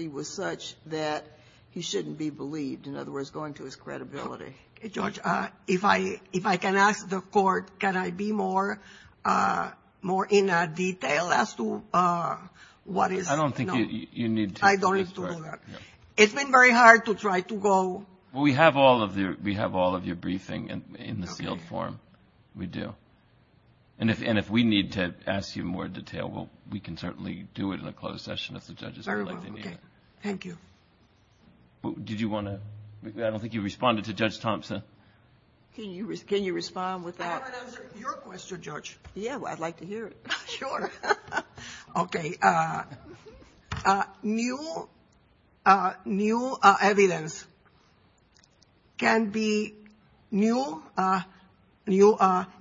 was such that he shouldn't be believed. In other words, going to his credibility. Judge, if I can ask the court, can I be more in detail as to what is? I don't think you need to. It's been very hard to try to go. We have all of your briefing in the field forum. We do. And if we need to ask you more detail, we can certainly do it in a closed session if the judges are letting me. Very well. Thank you. Did you want to? I don't think you responded to Judge Thompson. Can you respond with that? I thought that was your question, Judge. Yes, I'd like to hear it. Sure. Okay. New evidence can be new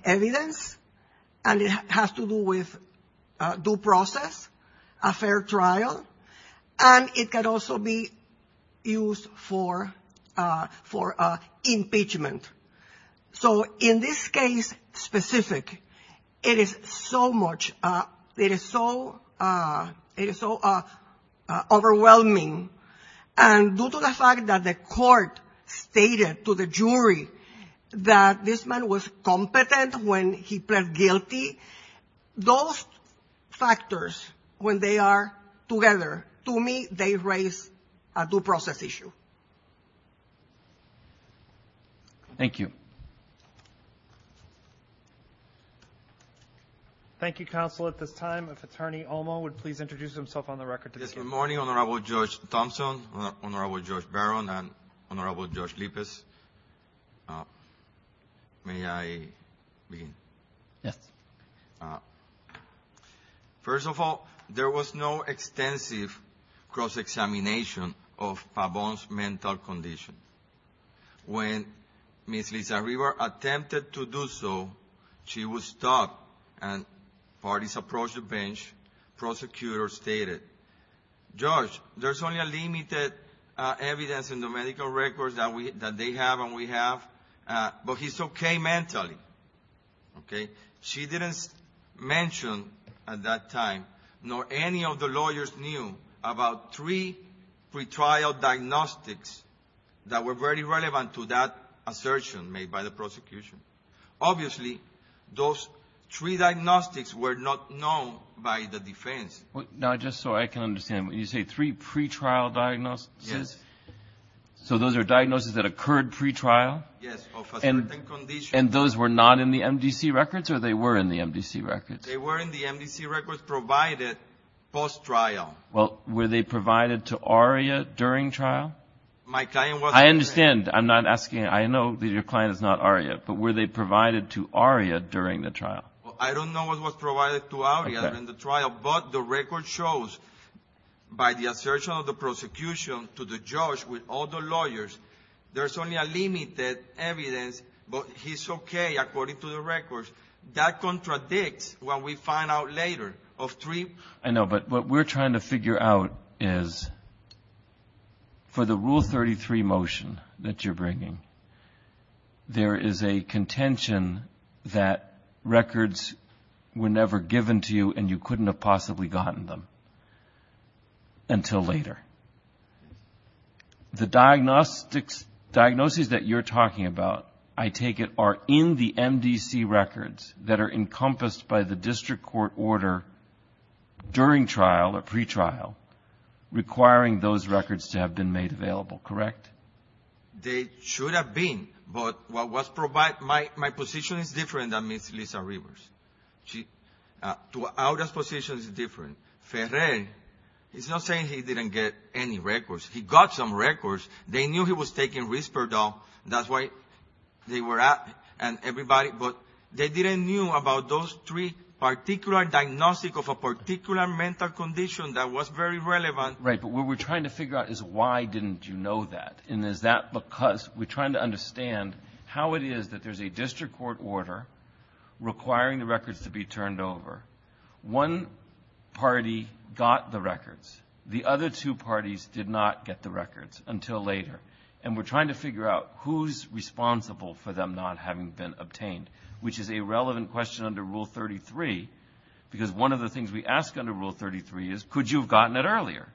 evidence, and it has to do with due process, a fair trial, and it can also be used for impeachment. So in this case specific, it is so overwhelming. And due to the fact that the court stated to the jury that this man was competent when he pled guilty, those factors, when they are together, to me they raise a due process issue. Thank you. Thank you, counsel. At this time, if Attorney Omo would please introduce himself on the record. Good morning, Honorable Judge Thompson, Honorable Judge Barron, and Honorable Judge Lippes. May I begin? Yes. First of all, there was no extensive cross-examination of Pabon's mental condition. When Ms. Lizarriver attempted to do so, she was stopped, and parties approached the bench. Prosecutors stated, Judge, there's only a limited evidence in the medical records that they have and we have, but he's okay mentally. She didn't mention at that time, nor any of the lawyers knew, about three pre-trial diagnostics that were very relevant to that assertion made by the prosecution. Obviously, those three diagnostics were not known by the defense. Now, just so I can understand, you say three pre-trial diagnoses? Yes. So those are diagnoses that occurred pre-trial? Yes, of a certain condition. And those were not in the MDC records, or they were in the MDC records? They were in the MDC records provided post-trial. Well, were they provided to ARIA during trial? I understand. I'm not asking. I know that your client is not ARIA, but were they provided to ARIA during the trial? I don't know what was provided to ARIA during the trial, but the record shows by the assertion of the prosecution to the judge with all the lawyers, there's only a limited evidence, but he's okay according to the records. That contradicts what we find out later of three. I know, but what we're trying to figure out is for the Rule 33 motion that you're bringing, there is a contention that records were never given to you and you couldn't have possibly gotten them until later. The diagnoses that you're talking about, I take it, are in the MDC records that are encompassed by the district court order during trial or pre-trial, requiring those records to have been made available, correct? They should have been, but my position is different than Ms. Arriba's. Aria's position is different. It's not saying he didn't get any records. He got some records. They knew he was taking Risperdal. That's why they were asked and everybody, but they didn't know about those three particular diagnoses of a particular mental condition that was very relevant. Right, but what we're trying to figure out is why didn't you know that, and is that because we're trying to understand how it is that there's a district court order requiring the records to be turned over. One party got the records. The other two parties did not get the records until later, and we're trying to figure out who's responsible for them not having been obtained, which is a relevant question under Rule 33 because one of the things we ask under Rule 33 is, could you have gotten it earlier?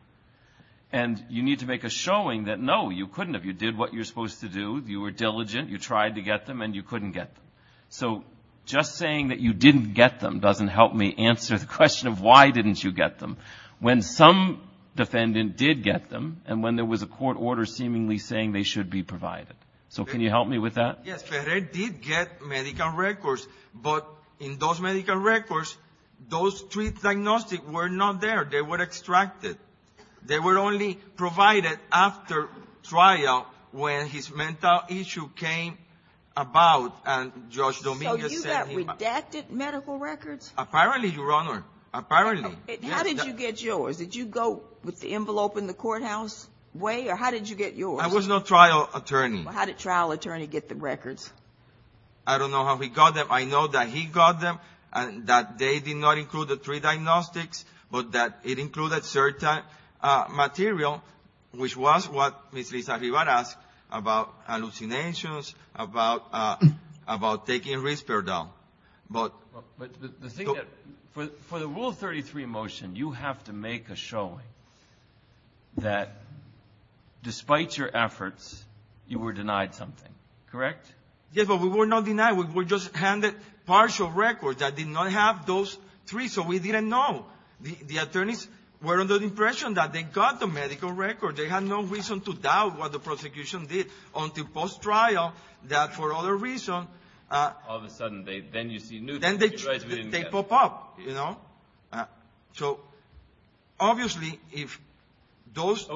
And you need to make a showing that, no, you couldn't have. You did what you're supposed to do. You were diligent. You tried to get them and you couldn't get them. So just saying that you didn't get them doesn't help me answer the question of why didn't you get them. When some defendant did get them and when there was a court order seemingly saying they should be provided. So can you help me with that? Yes, Ferrer did get medical records, but in those medical records those three diagnoses were not there. They were extracted. They were only provided after trial when his mental issue came about. So you got redacted medical records? Apparently, Your Honor, apparently. How did you get yours? Did you go with the envelope in the courthouse way, or how did you get yours? I was no trial attorney. How did a trial attorney get the records? I don't know how he got them. I know that he got them, that they did not include the three diagnostics, but that it included certain material, which was what Ms. Rita Rivera asked about hallucinations, about taking a respirator down. But the thing is, for the Rule 33 motion, you have to make a showing that despite your efforts, you were denied something. Correct? Yes, but we were not denied. We were just handed partial records that did not have those three, so we didn't know. The attorneys were under the impression that they got the medical records. They had no reason to doubt what the prosecution did until post-trial, that for other reasons. All of a sudden, then you see news that you guys didn't get. Then they pop up, you know. So obviously, if those...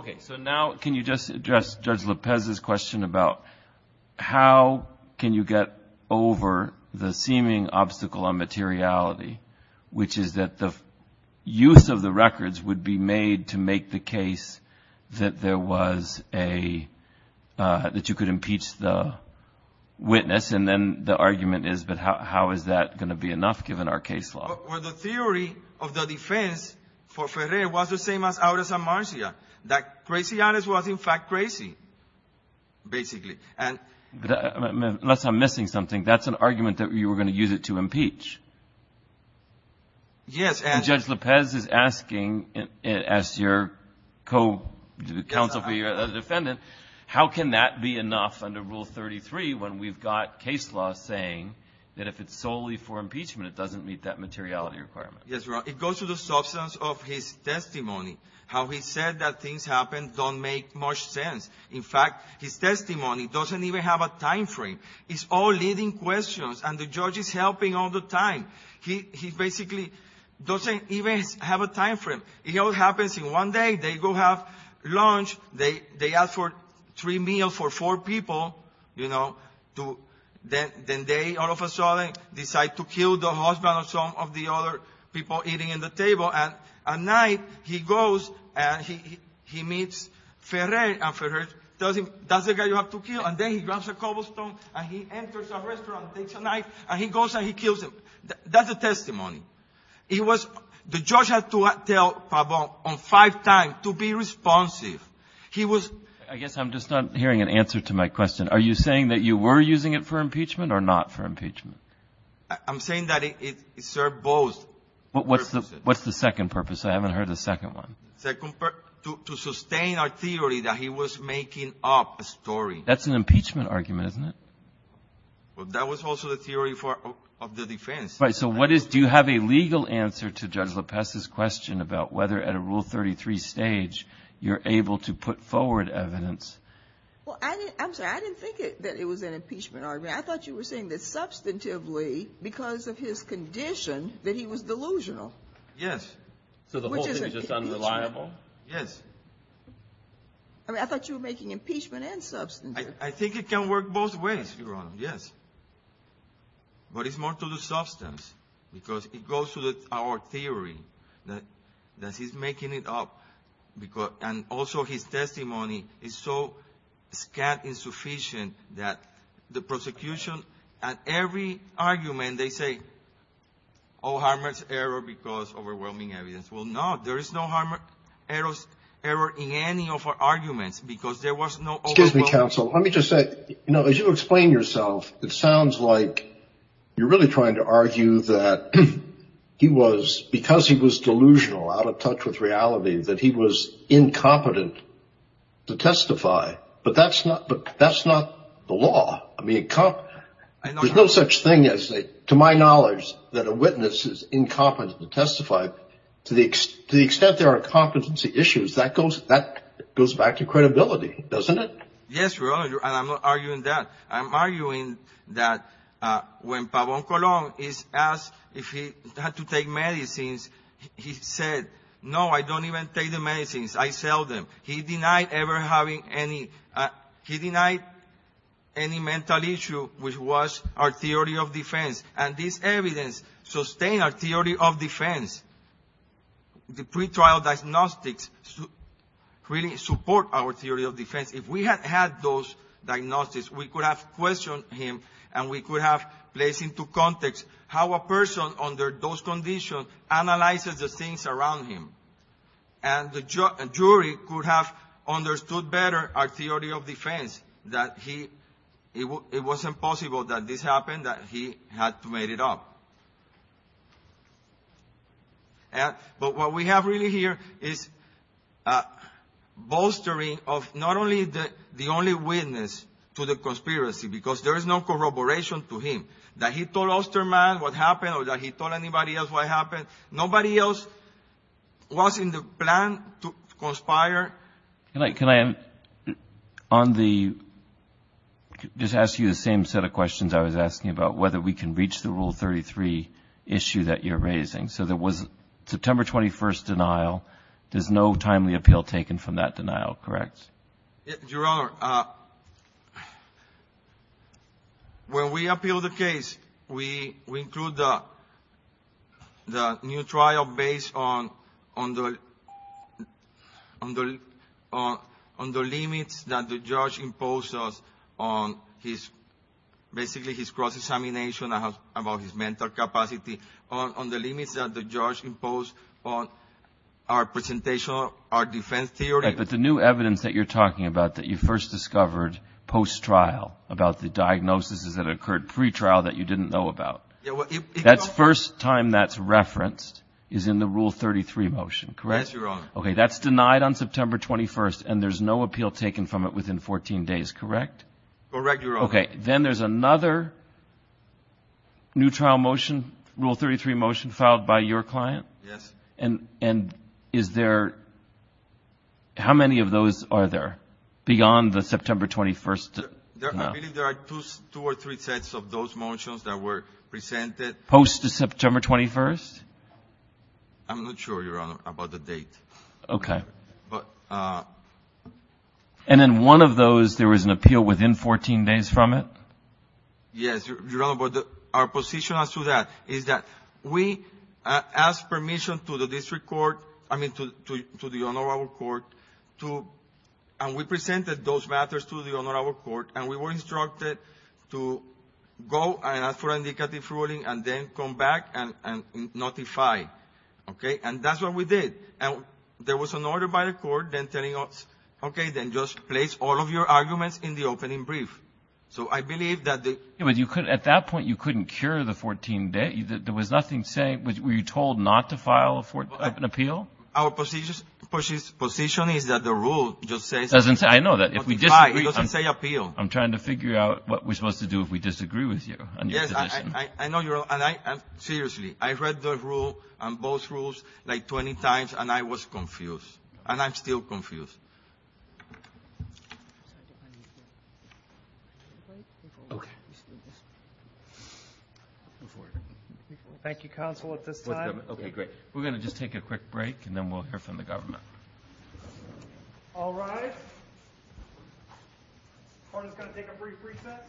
over the seeming obstacle on materiality, which is that the use of the records would be made to make the case that there was a, that you could impeach the witness, and then the argument is, but how is that going to be enough, given our case law? Well, the theory of the defense for Ferrer was the same as Aures and Marcia, that crazy honest was, in fact, crazy, basically. Unless I'm missing something. That's an argument that you were going to use it to impeach. Yes. And Judge López is asking, as your counsel for you as a defendant, how can that be enough under Rule 33 when we've got case law saying that if it's solely for impeachment, it doesn't meet that materiality requirement? Yes, Your Honor. It goes to the substance of his testimony, how he said that things happen don't make much sense. In fact, his testimony doesn't even have a time frame. It's all leading questions, and the judge is helping all the time. He basically doesn't even have a time frame. It all happens in one day. They go have lunch. They ask for three meals for four people, you know. Then they, all of a sudden, decide to kill the husband of some of the other people eating at the table. And at night, he goes and he meets Ferrer, and Ferrer tells him, that's the guy you have to kill. And then he grabs a cobblestone and he enters a restaurant and takes a knife, and he goes and he kills him. That's the testimony. It was, the judge had to tell Fabon on five times to be responsive. He was. I guess I'm just not hearing an answer to my question. Are you saying that you were using it for impeachment or not for impeachment? I'm saying that it served both purposes. What's the second purpose? I haven't heard the second one. To sustain our theory that he was making up a story. That's an impeachment argument, isn't it? Well, that was also the theory of the defense. Right. So what is, do you have a legal answer to Judge Lopez's question about whether at a Rule 33 stage you're able to put forward evidence? Well, I'm sorry. I didn't think that it was an impeachment argument. I thought you were saying that substantively, because of his condition, that he was delusional. Yes. So the whole thing is just unreliable? Yes. I mean, I thought you were making impeachment and substantive. I think it can work both ways, Your Honor. Yes. But it's more to the substance because it goes to our theory that he's making it up. And also his testimony is so scant and insufficient that the prosecution, at every argument, they say, oh, Harmer's error because overwhelming evidence. Well, no. There is no Harmer's error in any of our arguments because there was no overwhelming evidence. Excuse me, counsel. Let me just say, as you explain yourself, it sounds like you're really trying to argue that he was, because he was delusional, out of touch with reality, that he was incompetent to testify. But that's not the law. I mean, there's no such thing as, to my knowledge, that a witness is incompetent to testify. To the extent there are competency issues, that goes back to credibility, doesn't it? Yes, Your Honor, and I'm not arguing that. I'm arguing that when Pabon Colon is asked if he had to take medicines, he said, no, I don't even take the medicines. I sell them. He denied ever having any mental issue, which was our theory of defense. And this evidence sustained our theory of defense. The pretrial diagnostics really support our theory of defense. If we had had those diagnostics, we could have questioned him, and we could have placed into context how a person, under those conditions, analyzes the things around him. And the jury could have understood better our theory of defense, that it wasn't possible that this happened, that he had to make it up. But what we have really here is bolstering of not only the only witness to the conspiracy, because there is no corroboration to him, that he told Osterman what happened or that he told anybody else what happened. Nobody else was in the plan to conspire. Can I just ask you the same set of questions I was asking about, whether we can reach the Rule 33 issue that you're raising? So there was a September 21st denial. There's no timely appeal taken from that denial, correct? Your Honor, when we appeal the case, we include the new trial based on the limits that the judge imposed on his cross-examination about his mental capacity, on the limits that the judge imposed on our presentation of our defense theory. All right, but the new evidence that you're talking about, that you first discovered post-trial, about the diagnoses that occurred pre-trial that you didn't know about, that first time that's referenced is in the Rule 33 motion, correct? Yes, Your Honor. Okay, that's denied on September 21st, and there's no appeal taken from it within 14 days, correct? Correct, Your Honor. Okay, then there's another new trial motion, Rule 33 motion, filed by your client? Yes. And is there – how many of those are there beyond the September 21st? I believe there are two or three sets of those motions that were presented. Post-September 21st? I'm not sure, Your Honor, about the date. Okay. And in one of those, there was an appeal within 14 days from it? Yes, Your Honor, but our position as to that is that we asked permission to the district court – I mean, to the honorable court, and we presented those matters to the honorable court, and we were instructed to go and ask for indicative ruling and then come back and notify, okay? And that's what we did. And there was an order by the court then telling us, okay, then just place all of your arguments in the opening brief. So I believe that the – At that point, you couldn't cure the 14 days? There was nothing saying – were you told not to file an appeal? Our position is that the rule just says – It doesn't say – I know that. It doesn't say appeal. I'm trying to figure out what we're supposed to do if we disagree with you. Yes, I know you're – and I – seriously, I read the rule, both rules, like 20 times, and I was confused, and I'm still confused. Thank you, counsel, at this time. Okay, great. We're going to just take a quick break, and then we'll hear from the government. All rise. Court is going to take a brief recess.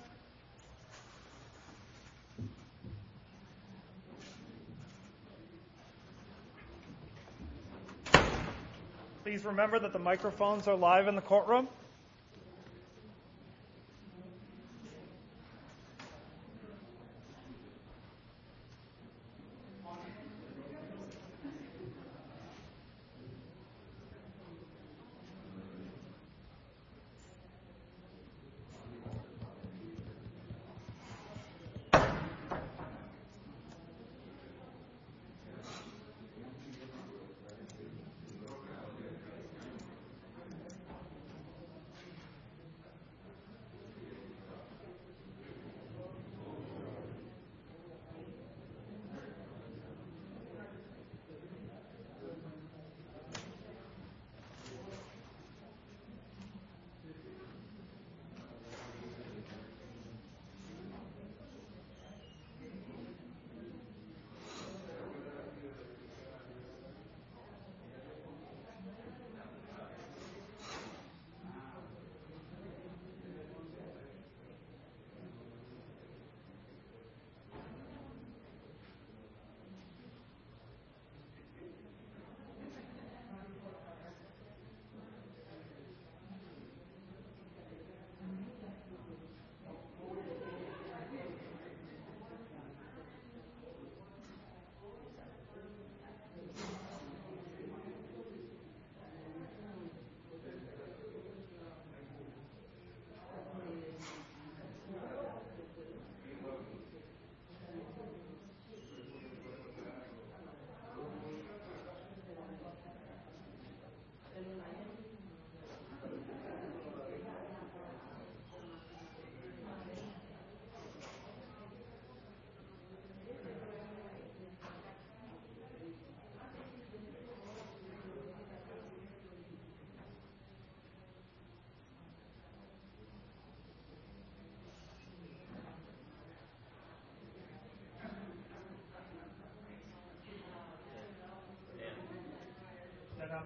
Please remember that the microphones are live in the courtroom.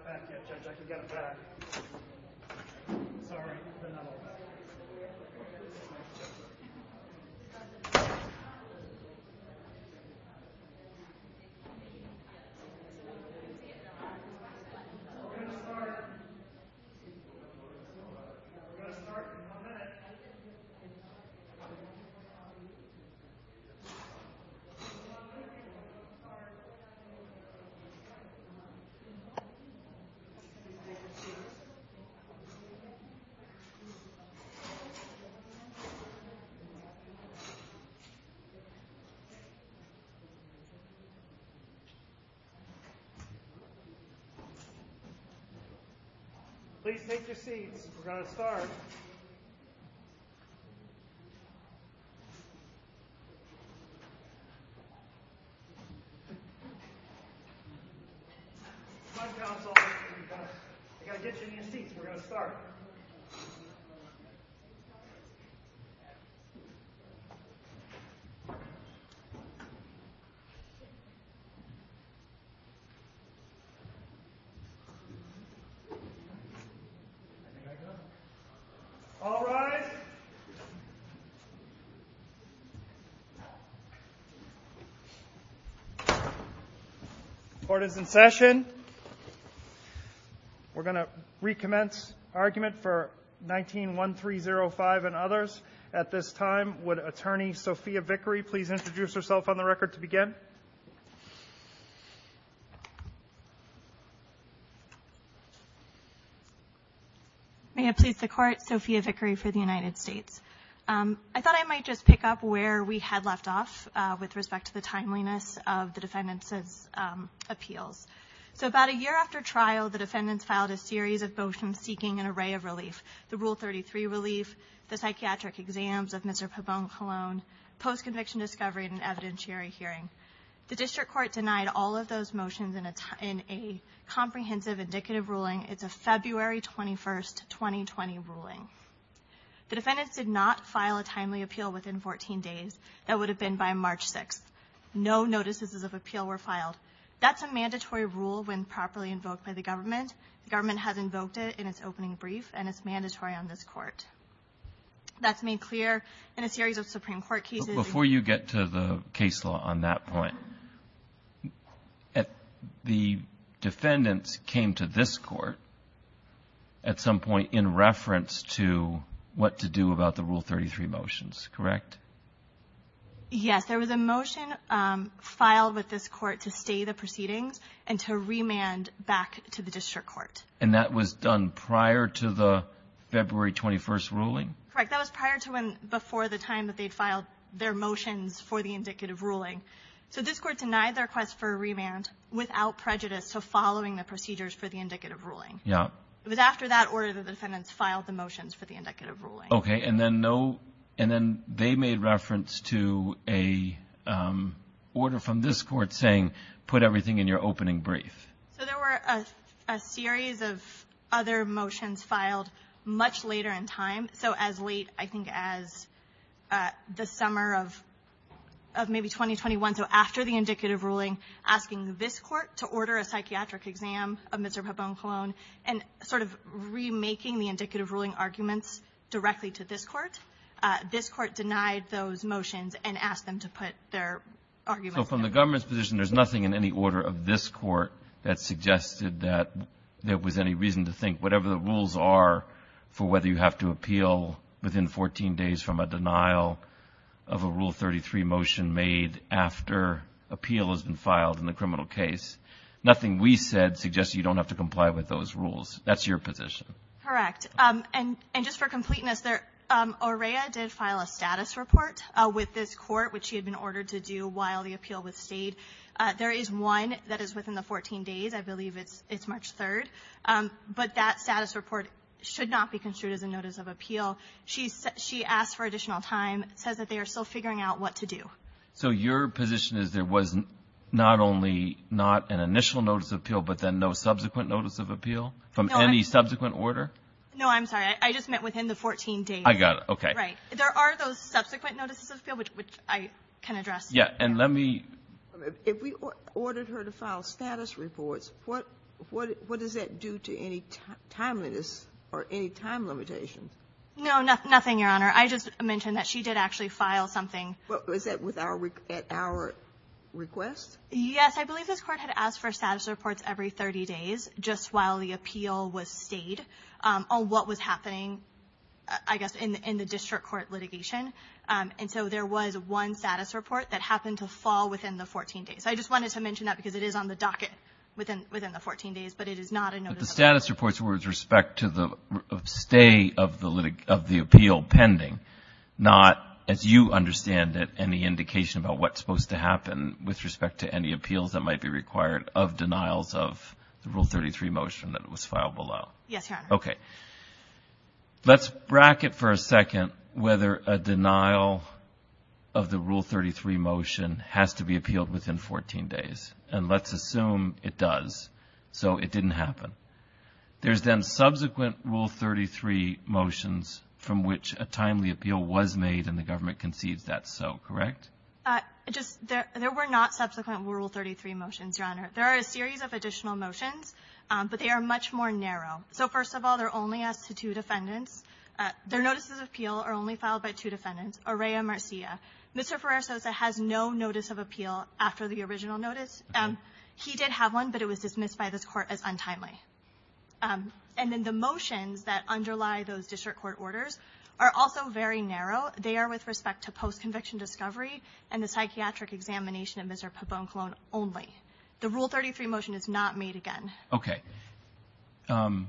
Thank you. Thank you. Thank you. Thank you. We're going to start in a minute. We're going to start in a minute. We're going to start in a minute. We're going to start in a minute. All right. All right. Court is in session. We're going to recommence argument for 19-1305 and others. At this time, would Attorney Sophia Vickery please introduce herself on the record to begin? May it please the Court, Sophia Vickery for the United States. I thought I might just pick up where we had left off with respect to the timeliness of the defendants' appeals. So about a year after trial, the defendants filed a series of motions seeking an array of relief, the Rule 33 relief, the psychiatric exams of Mr. Pabon-Colón, post-conviction discovery, and an evidentiary hearing. The district court denied all of those motions in a comprehensive indicative ruling. It's a February 21, 2020, ruling. The defendants did not file a timely appeal within 14 days. That would have been by March 6. No notices of appeal were filed. That's a mandatory rule when properly invoked by the government. The government has invoked it in its opening brief, and it's mandatory on this Court. That's made clear in a series of Supreme Court cases. Before you get to the case law on that point, the defendants came to this Court at some point in reference to what to do about the Rule 33 motions, correct? Yes, there was a motion filed with this Court to stay the proceedings and to remand back to the district court. And that was done prior to the February 21 ruling? Correct, that was prior to and before the time that they filed their motions for the indicative ruling. So this Court denied their request for a remand without prejudice to following the procedures for the indicative ruling. It was after that order that the defendants filed the motions for the indicative ruling. Okay, and then they made reference to an order from this Court saying, put everything in your opening brief. So there were a series of other motions filed much later in time. So as late, I think, as the summer of maybe 2021, so after the indicative ruling, asking this Court to order a psychiatric exam of Mr. Pabon-Colón, and sort of remaking the indicative ruling arguments directly to this Court. This Court denied those motions and asked them to put their arguments. So from the government's position, there's nothing in any order of this Court that suggested that there was any reason to think, whatever the rules are for whether you have to appeal within 14 days from a denial of a Rule 33 motion made after appeal has been filed in the criminal case. Nothing we said suggests you don't have to comply with those rules. That's your position. Correct. And just for completeness, OREA did file a status report with this Court, which had been ordered to do while the appeal was stayed. There is one that is within the 14 days. I believe it's March 3rd. But that status report should not be construed as a notice of appeal. She asked for additional time, says that they are still figuring out what to do. So your position is there was not only not an initial notice of appeal, but then no subsequent notice of appeal from any subsequent order? No, I'm sorry. I just meant within the 14 days. I got it. Okay. Right. There are those subsequent notices of appeal, which I can address. If we ordered her to file status reports, what does that do to any timeliness or any time limitation? No, nothing, Your Honor. I just mentioned that she did actually file something. Was that at our request? Yes. I believe this Court had asked for status reports every 30 days just while the appeal was stayed on what was happening, I guess, in the district court litigation. And so there was one status report that happened to fall within the 14 days. I just wanted to mention that because it is on the docket within the 14 days, but it is not a notice of appeal. But the status reports were with respect to the stay of the appeal pending, not, as you understand it, any indication about what's supposed to happen with respect to any appeals that might be required of denials of Rule 33 motion that was filed below. Yes, Your Honor. Okay. Let's bracket for a second whether a denial of the Rule 33 motion has to be appealed within 14 days. And let's assume it does. So it didn't happen. There's then subsequent Rule 33 motions from which a timely appeal was made and the government conceived that so, correct? There were not subsequent Rule 33 motions, Your Honor. There are a series of additional motions, but they are much more narrow. So, first of all, they're only asked to two defendants. Their notices of appeal are only filed by two defendants, Araya and Marcia. Mr. Ferrer-Sosa has no notice of appeal after the original notice. He did have one, but it was dismissed by the court as untimely. And then the motions that underlie those district court orders are also very narrow. They are with respect to post-conviction discovery and the psychiatric examination of Mr. Pabon-Colón only. The Rule 33 motion is not made again. Okay. The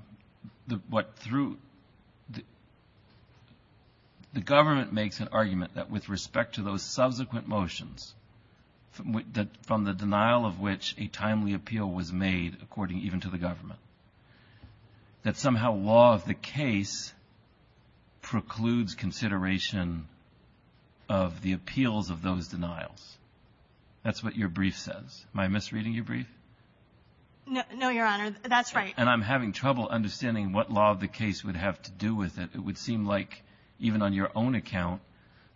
government makes an argument that with respect to those subsequent motions, from the denial of which a timely appeal was made according even to the government, that somehow law of the case precludes consideration of the appeals of those denials. That's what your brief says. Am I misreading your brief? No, Your Honor. That's right. And I'm having trouble understanding what law of the case would have to do with it. It would seem like, even on your own account,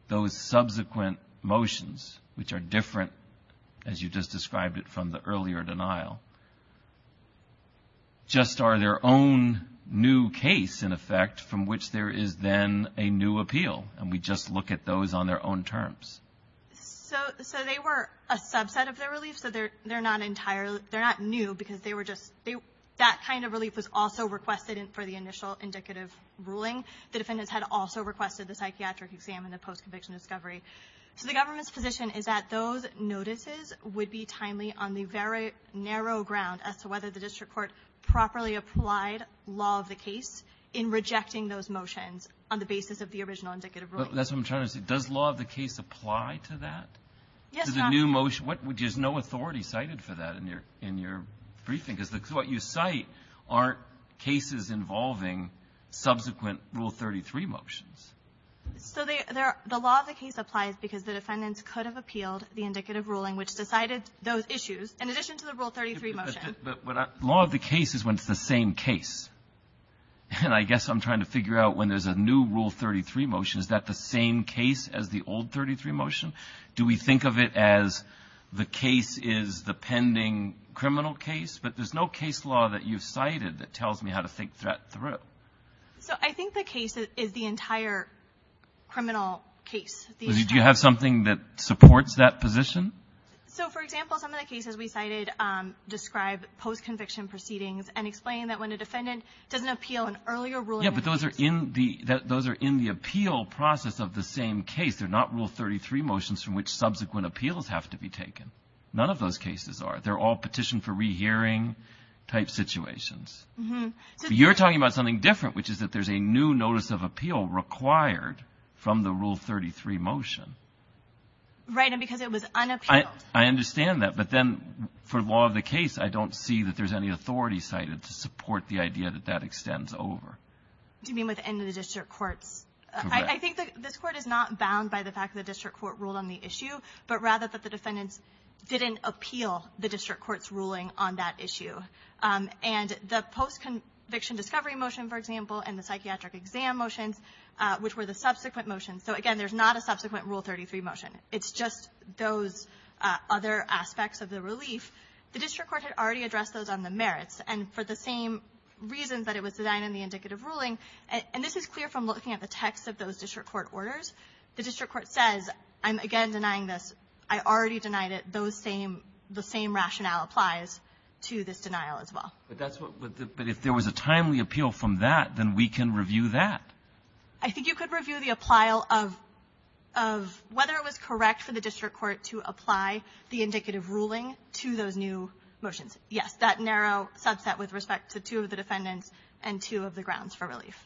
those subsequent motions, which are different, as you just described it, from the earlier denial, just are their own new case, in effect, from which there is then a new appeal. And we just look at those on their own terms. So they were a subset of their relief. So they're not new because that kind of relief was also requested for the initial indicative ruling. The defendants had also requested the psychiatric exam and the post-conviction discovery. So the government's position is that those notices would be timely on the very narrow ground as to whether the district court properly applied law of the case in rejecting those motions on the basis of the original indicative ruling. That's what I'm trying to say. Does law of the case apply to that? Yes, Your Honor. To the new motion? There's no authority cited for that in your briefing. Because what you cite are cases involving subsequent Rule 33 motions. So the law of the case applies because the defendants could have appealed the indicative ruling, which decided those issues, in addition to the Rule 33 motion. But law of the case is when it's the same case. And I guess I'm trying to figure out when there's a new Rule 33 motion, is that the same case as the old 33 motion? Do we think of it as the case is the pending criminal case? But there's no case law that you've cited that tells me how to fake threat through. So I think the case is the entire criminal case. Do you have something that supports that position? So, for example, some of the cases we cited describe post-conviction proceedings and explain that when a defendant doesn't appeal an earlier ruling. Yeah, but those are in the appeal process of the same case. They're not Rule 33 motions from which subsequent appeals have to be taken. None of those cases are. They're all petition for rehearing type situations. You're talking about something different, which is that there's a new notice of appeal required from the Rule 33 motion. Right, and because it was unappealed. I understand that. But then for law of the case, I don't see that there's any authority cited to support the idea that that extends over. You mean within the district court? Correct. I think this court is not bound by the fact that the district court ruled on the issue, but rather that the defendant didn't appeal the district court's ruling on that issue. And the post-conviction discovery motion, for example, and the psychiatric exam motion, which were the subsequent motions. So, again, there's not a subsequent Rule 33 motion. It's just those other aspects of the relief. The district court had already addressed those on the merits, and for the same reasons that it was designed in the indicative ruling. And this is clear from looking at the text of those district court orders. The district court says, I'm, again, denying this. I already denied it. The same rationale applies to this denial as well. But if there was a timely appeal from that, then we can review that. I think you could review the applyal of whether it was correct for the district court to apply the indicative ruling to those new motions. Yes, that narrow subset with respect to two of the defendants and two of the grounds for relief.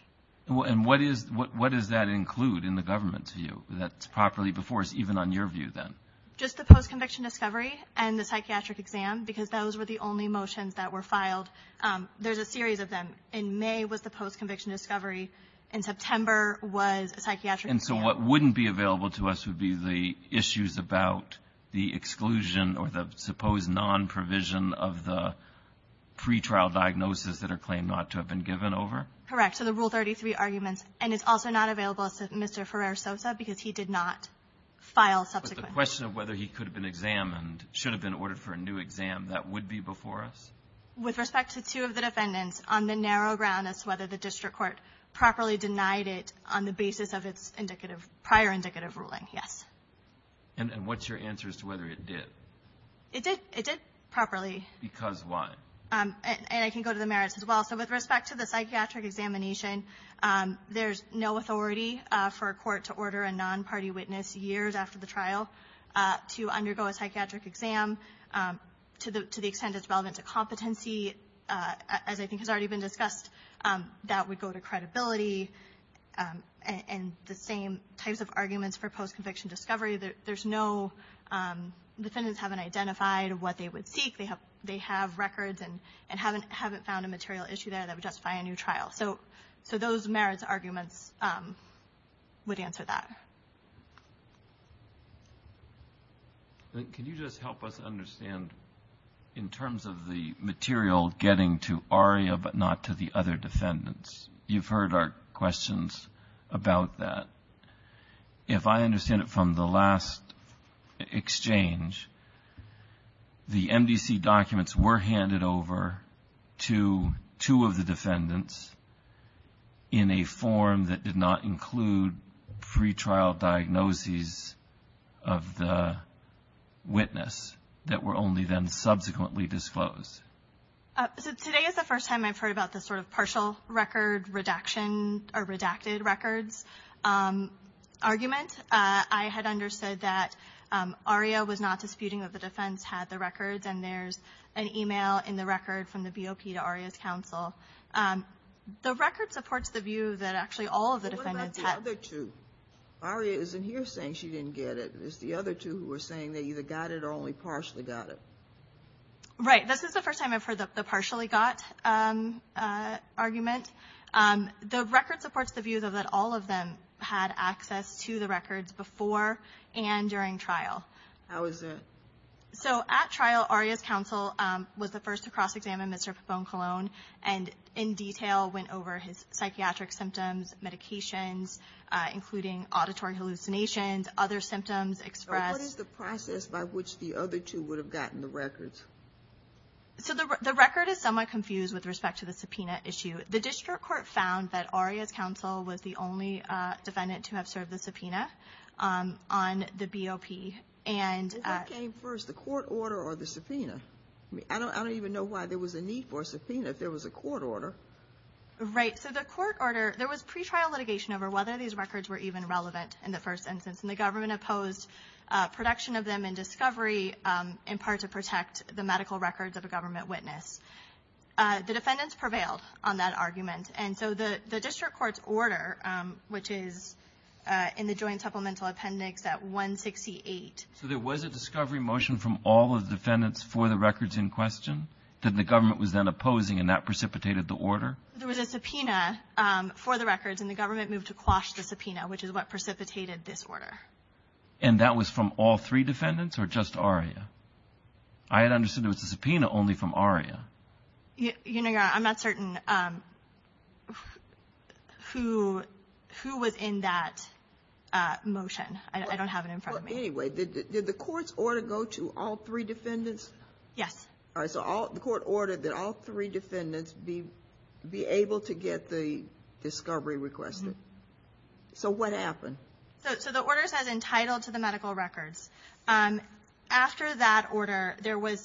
And what does that include in the government's view? That's properly before us, even on your view, then. Just the post-conviction discovery and the psychiatric exam, because those were the only motions that were filed. There's a series of them. In May was the post-conviction discovery. In September was the psychiatric exam. And so what wouldn't be available to us would be the issues about the exclusion or the supposed non-provision of the pretrial diagnosis that are claimed not to have been given over? Correct, so the Rule 33 argument. And it's also not available to Mr. Ferrer-Sosa because he did not file subsequently. But the question of whether he could have been examined, should have been ordered for a new exam, that would be before us? With respect to two of the defendants, on the narrow ground as to whether the district court properly denied it on the basis of its prior indicative ruling, yes. And what's your answer as to whether it did? It did properly. Because what? And I can go to the merits as well. So with respect to the psychiatric examination, there's no authority for a court to order a non-party witness years after the trial to undergo a psychiatric exam to the extent it's relevant to competency. As I think has already been discussed, that would go to credibility. And the same types of arguments for post-conviction discovery, there's no defendants haven't identified what they would seek. They have records and haven't found a material issue that would justify a new trial. So those merits arguments would answer that. Can you just help us understand in terms of the material getting to ARIA but not to the other defendants? You've heard our questions about that. If I understand it from the last exchange, the MDC documents were handed over to two of the defendants in a form that did not include pre-trial diagnoses of the witness that were only then subsequently disclosed. Today is the first time I've heard about this sort of partial record redaction or redacted records argument. I had understood that ARIA was not disputing that the defense had the records, and there's an email in the record from the BOP to ARIA's counsel. The record supports the view that actually all of the defendants had. What about the other two? ARIA isn't here saying she didn't get it. It's the other two who are saying they either got it or only partially got it. Right. This is the first time I've heard the partially got argument. The record supports the view, though, that all of them had access to the records before and during trial. How is that? At trial, ARIA's counsel was the first to cross-examine Mr. Fuson-Colon and in detail went over his psychiatric symptoms, medications, including auditory hallucinations, other symptoms expressed. What is the process by which the other two would have gotten the records? The record is somewhat confused with respect to the subpoena issue. The district court found that ARIA's counsel was the only defendant to have served the subpoena on the BOP. Did that come first, the court order or the subpoena? I don't even know why there was a need for a subpoena if there was a court order. Right. So the court order, there was pretrial litigation over whether these records were even relevant in the first instance, and the government opposed production of them in discovery in part to protect the medical records of a government witness. The defendants prevailed on that argument, and so the district court's order, which is in the joint supplemental appendix at 168. So there was a discovery motion from all of the defendants for the records in question that the government was then opposing, and that precipitated the order? There was a subpoena for the records, and the government moved to quash the subpoena, which is what precipitated this order. And that was from all three defendants or just ARIA? I had understood it was a subpoena only from ARIA. I'm not certain who was in that motion. I don't have it in front of me. Anyway, did the court's order go to all three defendants? Yes. All right. So the court ordered that all three defendants be able to get the discovery requested. So what happened? So the order said entitled to the medical records. After that order, there are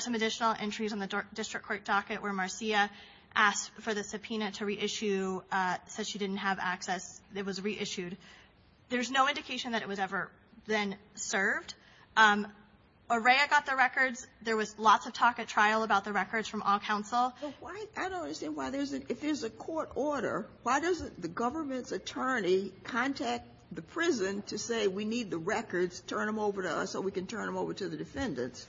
some additional entries on the district court docket where Marcia asked for the subpoena to reissue, said she didn't have access. It was reissued. There's no indication that it was ever then served. ARIA got the records. There was lots of talk at trial about the records from all counsel. I don't understand why there's a court order. Why doesn't the government's attorney contact the prison to say, we need the records, turn them over to us so we can turn them over to the defendants?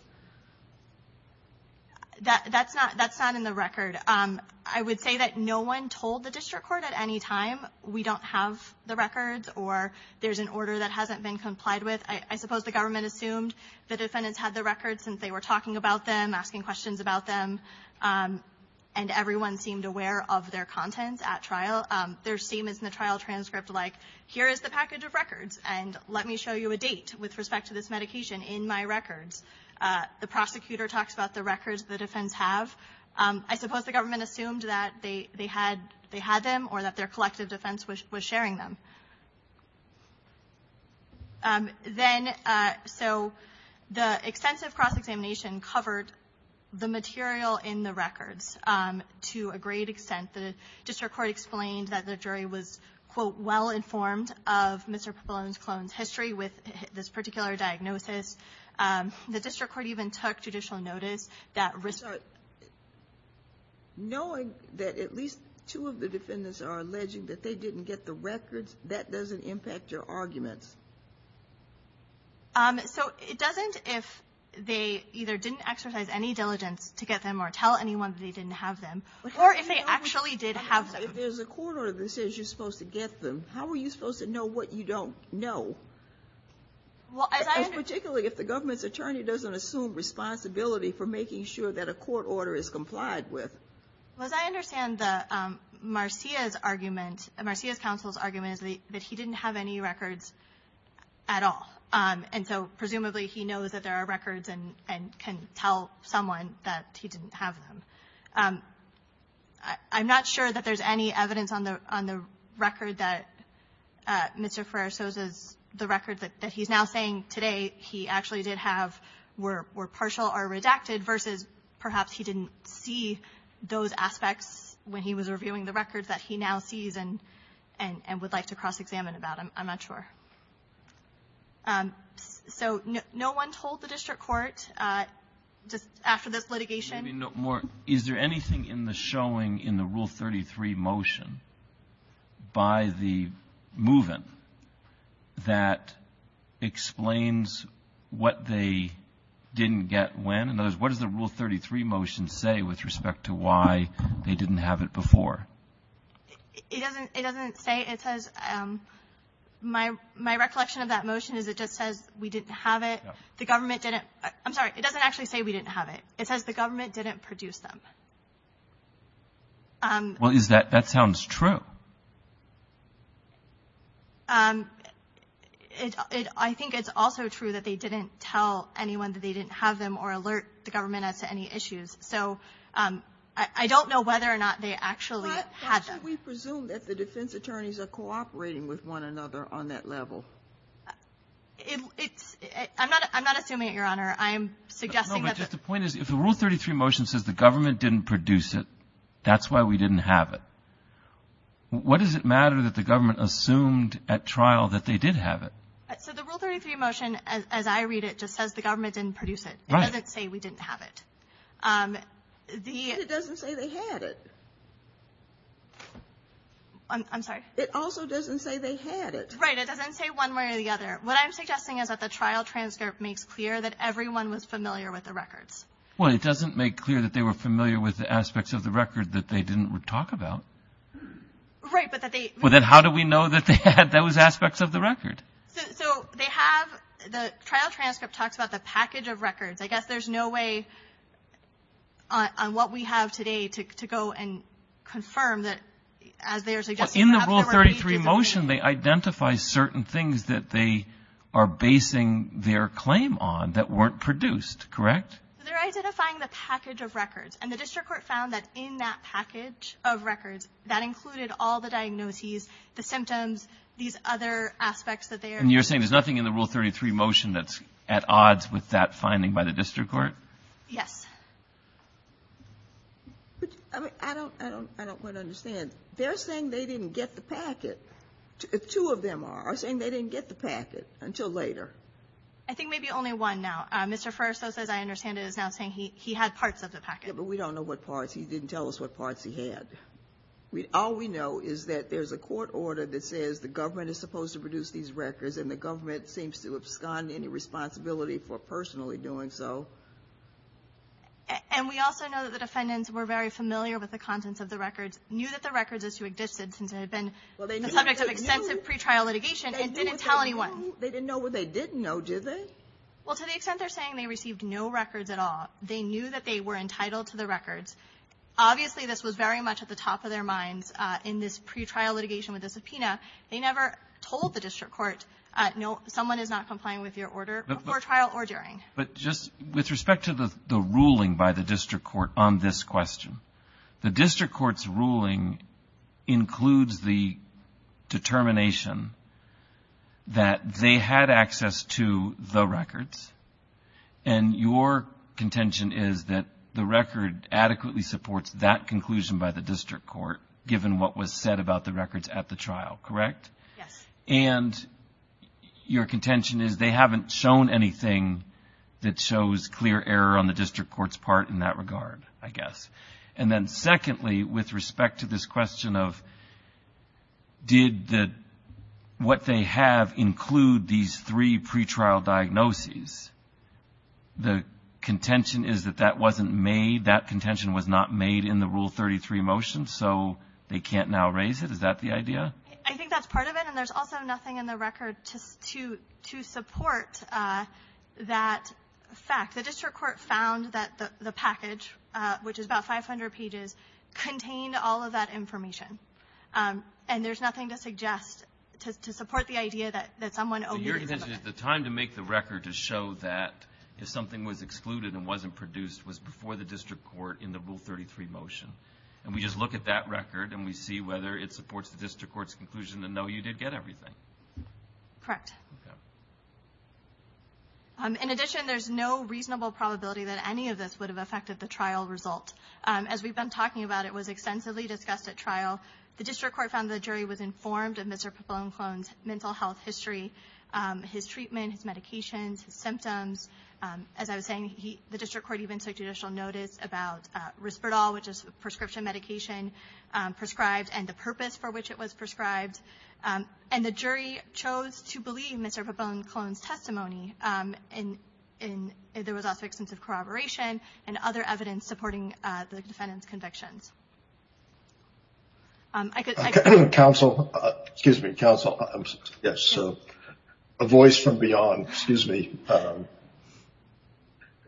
That's not in the record. I would say that no one told the district court at any time we don't have the records or there's an order that hasn't been complied with. I suppose the government assumed the defendants had the records since they were talking about them, asking questions about them, and everyone seemed aware of their content at trial. There's statements in the trial transcript like, here is the package of records and let me show you a date with respect to this medication in my records. The prosecutor talks about the records the defendants have. I suppose the government assumed that they had them or that their collective defense was sharing them. So the extensive cross-examination covered the material in the records to a great extent. The district court explained that the jury was, quote, well-informed of Mr. Coppola and his history with this particular diagnosis. The district court even took judicial notice that risked So knowing that at least two of the defendants are alleging that they didn't get the records, that doesn't impact your argument? So it doesn't if they either didn't exercise any diligence to get them or tell anyone that they didn't have them Or if they actually did have them. If there's a court order that says you're supposed to get them, how are you supposed to know what you don't know? Particularly if the government's attorney doesn't assume responsibility for making sure that a court order is complied with. As I understand Marcia's argument, Marcia's counsel's argument, that he didn't have any records at all. And so presumably he knows that there are records and can tell someone that he didn't have them. I'm not sure that there's any evidence on the record that Mr. Ferrer shows us, the record that he's now saying today he actually did have were partial or redacted versus perhaps he didn't see those aspects when he was reviewing the records that he now sees and would like to cross-examine about. I'm not sure. So no one told the district court after the litigation? Is there anything in the showing in the Rule 33 motion by the move-in that explains what they didn't get when? My question is what does the Rule 33 motion say with respect to why they didn't have it before? It doesn't say. My recollection of that motion is it just says we didn't have it. The government didn't. I'm sorry. It doesn't actually say we didn't have it. It says the government didn't produce them. Well, that sounds true. I think it's also true that they didn't tell anyone that they didn't have them or alert the government as to any issues. So I don't know whether or not they actually had them. How should we presume that the defense attorneys are cooperating with one another on that level? I'm not assuming it, Your Honor. I'm suggesting that the rule 33 motion says the government didn't produce it. That's why we didn't have it. What does it matter that the government assumed at trial that they did have it? So the Rule 33 motion, as I read it, just says the government didn't produce it. It doesn't say we didn't have it. It doesn't say they had it. I'm sorry. It also doesn't say they had it. Right. It doesn't say one way or the other. What I'm suggesting is that the trial transcript makes clear that everyone was familiar with the records. Well, it doesn't make clear that they were familiar with the aspects of the record that they didn't talk about. Right, but that they – Well, then how do we know that they had those aspects of the record? So they have – the trial transcript talks about the package of records. I guess there's no way on what we have today to go and confirm that there's – Well, in the Rule 33 motion, they identify certain things that they are basing their claim on that weren't produced, correct? They're identifying the package of records, and the district court found that in that package of records, that included all the diagnoses, the symptoms, these other aspects of theirs. And you're saying there's nothing in the Rule 33 motion that's at odds with that finding by the district court? Yes. I don't quite understand. They're saying they didn't get the package. Two of them are saying they didn't get the package until later. I think maybe only one now. Mr. Furst, as I understand it, is now saying he had parts of the package. Yeah, but we don't know what parts. He didn't tell us what parts he had. All we know is that there's a court order that says the government is supposed to produce these records, and the government seems to abscond any responsibility for personally doing so. And we also know that the defendants were very familiar with the contents of the records, knew that the records existed since it had been the subject of extensive pre-trial litigation, and didn't tell anyone. They didn't know what they didn't know, did they? Well, to the extent they're saying they received no records at all, they knew that they were entitled to the records. Obviously this was very much at the top of their minds in this pre-trial litigation with the subpoena. They never told the district court, no, someone is not complying with your order before trial or during. But just with respect to the ruling by the district court on this question, the district court's ruling includes the determination that they had access to the records, and your contention is that the record adequately supports that conclusion by the district court, given what was said about the records at the trial, correct? Yes. And your contention is they haven't shown anything that shows clear error on the district court's part in that regard, I guess. And then secondly, with respect to this question of did what they have include these three pre-trial diagnoses, the contention is that that wasn't made, that contention was not made in the Rule 33 motion, so they can't now raise it, is that the idea? I think that's part of it, and there's also nothing in the record to support that fact. The district court found that the package, which is about 500 pages, contained all of that information, and there's nothing to suggest to support the idea that someone over- Your contention is the time to make the record to show that something was excluded and wasn't produced was before the district court in the Rule 33 motion, and we just look at that record and we see whether it supports the district court's conclusion to know you did get everything. Correct. Okay. In addition, there's no reasonable probability that any of this would have affected the trial result. As we've been talking about, it was extensively discussed at trial. The district court found the jury was informed of Mr. Capone's mental health history, his treatment, medications, symptoms. As I was saying, the district court even took judicial notice about Risperdal, which is a prescription medication prescribed and the purpose for which it was prescribed. And the jury chose to believe Mr. Capone's testimony, and there was also extensive corroboration and other evidence supporting the defendant's conviction. I could- Counsel. Excuse me, counsel. A voice from beyond. Excuse me.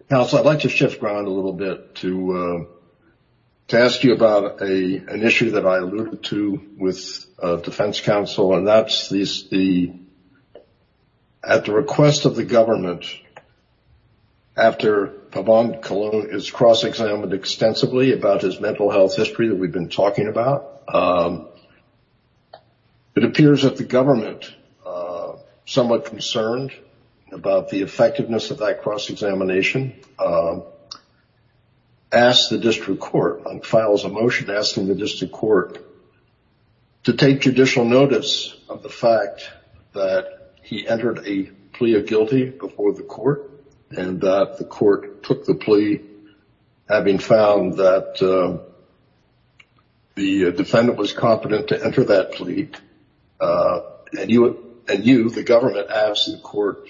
Counsel, I'd like to shift ground a little bit to ask you about an issue that I alluded to with defense counsel, and that's the-at the request of the government, after Pabon is cross-examined extensively about his mental health history that we've been talking about, it appears that the government, somewhat concerned about the effectiveness of that cross-examination, asked the district court, on file as a motion, asked the district court to take judicial notice of the fact that he entered a plea of guilty before the court, and that the court took the plea, having found that the defendant was competent to enter that plea, and you, the government, asked the court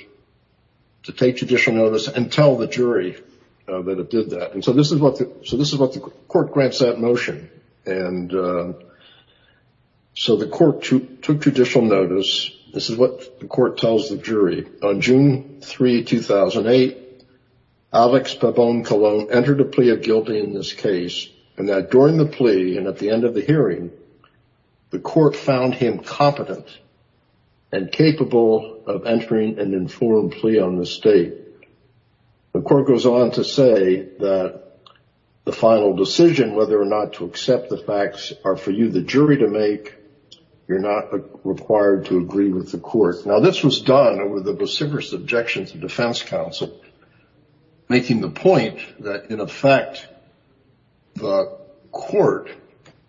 to take judicial notice and tell the jury that it did that. So this is what the court grants that motion. And so the court took judicial notice. This is what the court tells the jury. On June 3, 2008, Alex Pabon Colon entered a plea of guilty in this case, and that during the plea and at the end of the hearing, the court found him competent and capable of entering an informed plea on the state. The court goes on to say that the final decision, whether or not to accept the facts, are for you, the jury, to make. You're not required to agree with the court. Now, this was done with a vociferous objection to defense counsel, making the point that, in effect, the court,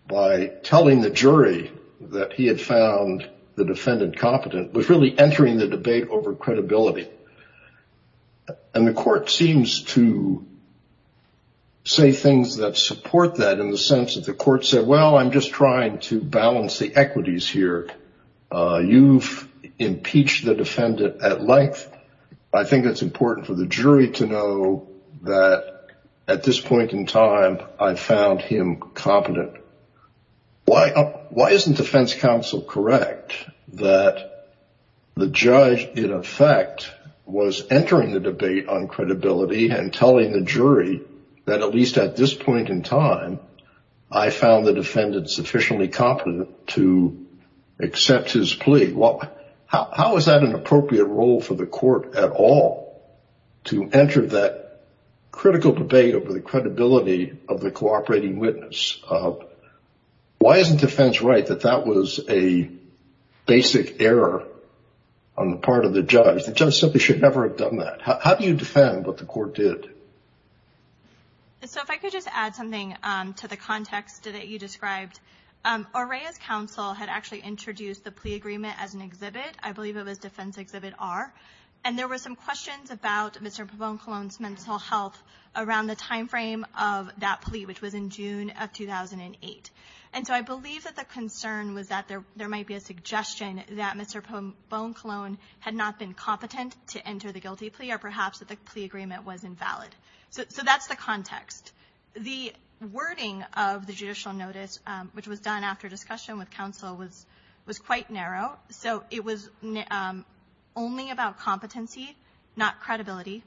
by telling the jury that he had found the defendant competent, was really entering the debate over credibility. And the court seems to say things that support that in the sense that the court said, well, I'm just trying to balance the equities here. You've impeached the defendant at length. I think it's important for the jury to know that at this point in time, I found him competent. Why isn't defense counsel correct that the judge, in effect, was entering the debate on credibility and telling the jury that at least at this point in time, I found the defendant sufficiently competent to accept his plea? How is that an appropriate role for the court at all, to enter that critical debate over the credibility of the cooperating witness? Why isn't defense right that that was a basic error on the part of the judge? The judge simply should never have done that. How do you defend what the court did? So if I could just add something to the context that you described. Orrea's counsel had actually introduced the plea agreement as an exhibit. I believe it was Defense Exhibit R. And there were some questions about Mr. Pavone-Colón's mental health around the timeframe of that plea, which was in June of 2008. And so I believe that the concern was that there might be a suggestion that Mr. Pavone-Colón had not been competent to enter the guilty plea, or perhaps that the plea agreement was invalid. So that's the context. The wording of the judicial notice, which was done after discussion with counsel, was quite narrow. So it was only about competency, not credibility.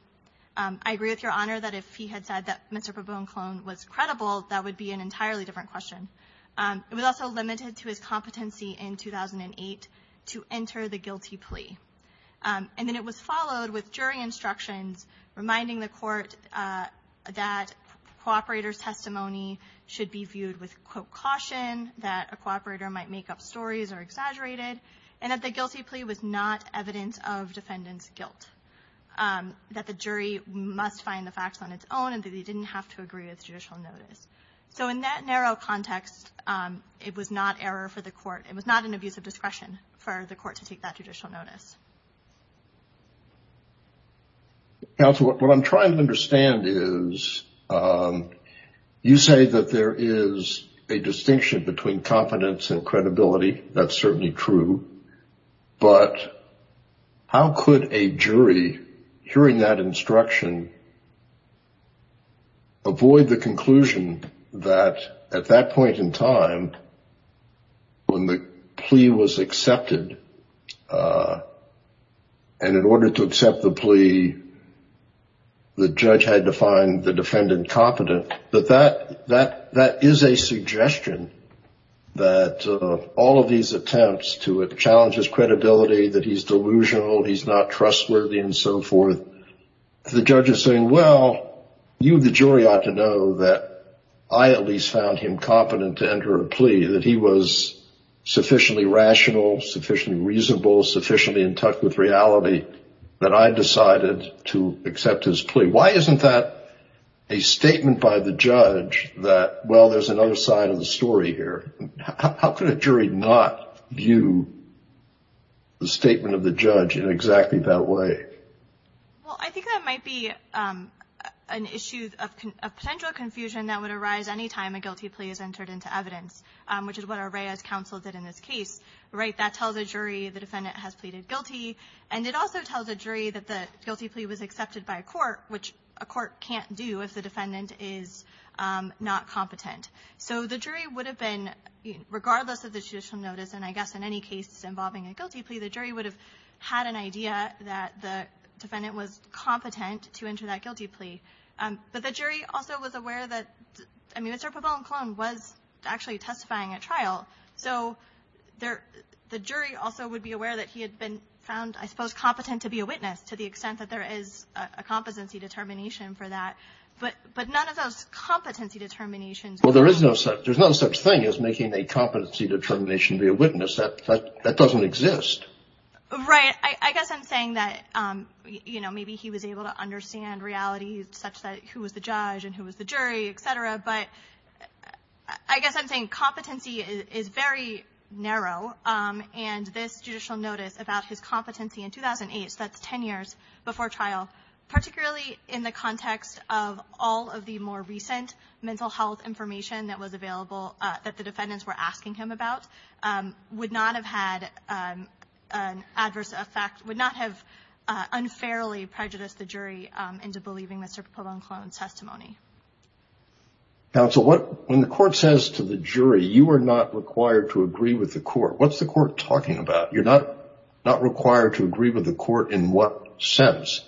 I agree with Your Honor that if he had said that Mr. Pavone-Colón was credible, that would be an entirely different question. It was also limited to his competency in 2008 to enter the guilty plea. And then it was followed with jury instructions reminding the court that cooperator's testimony should be viewed with, quote, caution, that a cooperator might make up stories or exaggerate it, and that the guilty plea was not evidence of defendant's guilt, that the jury must find the facts on its own and that he didn't have to agree with judicial notice. So in that narrow context, it was not error for the court. It was not an abuse of discretion for the court to take that judicial notice. Counsel, what I'm trying to understand is you say that there is a distinction between competence and credibility. That's certainly true. But how could a jury, hearing that instruction, avoid the conclusion that at that point in time, when the plea was accepted, and in order to accept the plea, the judge had to find the defendant competent, that that is a suggestion that all of these attempts to challenge his credibility, that he's delusional, he's not trustworthy and so forth, the judge is saying, well, you, the jury, ought to know that I at least found him competent to enter a plea, that he was sufficiently rational, sufficiently reasonable, sufficiently in touch with reality that I decided to accept his plea. Why isn't that a statement by the judge that, well, there's another side of the story here? How could a jury not view the statement of the judge in exactly that way? Well, I think that might be an issue of potential confusion that would arise any time a guilty plea is entered into evidence, which is what Arraya's counsel did in this case. That tells a jury the defendant has pleaded guilty, and it also tells a jury that the guilty plea was accepted by a court, which a court can't do if the defendant is not competent. So the jury would have been, regardless of the judicial notice, and I guess in any case involving a guilty plea, the jury would have had an idea that the defendant was competent to enter that guilty plea. But the jury also was aware that Mr. Pozol and Colon was actually testifying at trial, so the jury also would be aware that he had been found, I suppose, competent to be a witness, to the extent that there is a competency determination for that. But none of those competency determinations. Well, there is no such thing as making a competency determination to be a witness. That doesn't exist. Right. I guess I'm saying that, you know, maybe he was able to understand reality such that who was the judge and who was the jury, et cetera. But I guess I'm saying competency is very narrow, and this judicial notice about his competency in 2008, so that's 10 years before trial, particularly in the context of all of the more recent mental health information that was available, that the defendants were asking him about, would not have had an adverse effect, would not have unfairly prejudiced the jury into believing Mr. Pozol and Colon's testimony. Counsel, when the court says to the jury, you are not required to agree with the court, what's the court talking about? You're not required to agree with the court in what sense?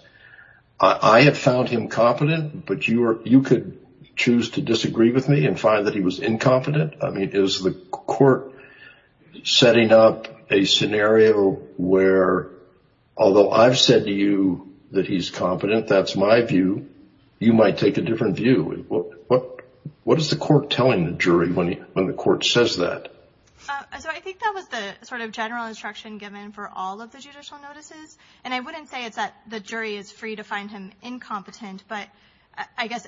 I had found him competent, but you could choose to disagree with me and find that he was incompetent? I mean, is the court setting up a scenario where, although I've said to you that he's competent, that's my view, you might take a different view? What is the court telling the jury when the court says that? I think that was the sort of general instruction given for all of the judicial notices, and I wouldn't say that the jury is free to find him incompetent, but I guess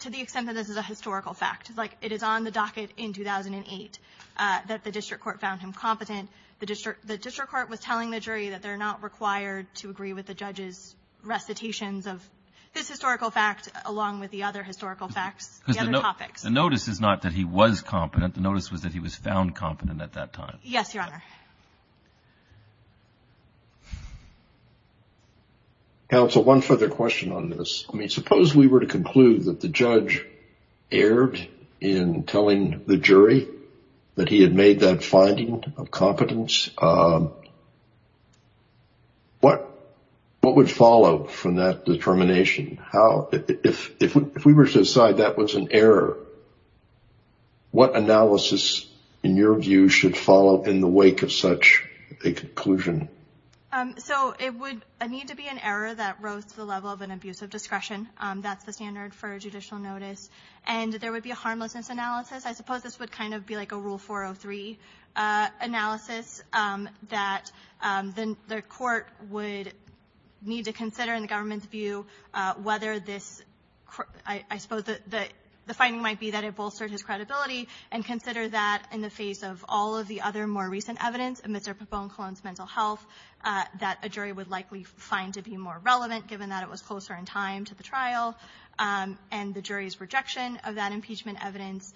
to the extent that this is a historical fact, like it is on the docket in 2008 that the district court found him competent. The district court was telling the jury that they're not required to agree with the judge's recitations of this historical fact along with the other historical facts, the other topics. The notice is not that he was competent. The notice was that he was found competent at that time. Yes, Your Honor. Thank you. Counsel, one further question on this. I mean, suppose we were to conclude that the judge erred in telling the jury that he had made that finding of competence. What would follow from that determination? If we were to decide that was an error, what analysis, in your view, should follow in the wake of such a conclusion? So it would need to be an error that rose to the level of an abuse of discretion. That's the standard for a judicial notice. And there would be a harmlessness analysis. I suppose this would kind of be like a Rule 403 analysis that the court would need to consider in the government's view whether this, I suppose the finding might be that it bolsters his credibility and consider that in the face of all of the other more recent evidence amidst a profound clone to mental health, that a jury would likely find to be more relevant given that it was closer in time to the trial and the jury's rejection of that impeachment evidence,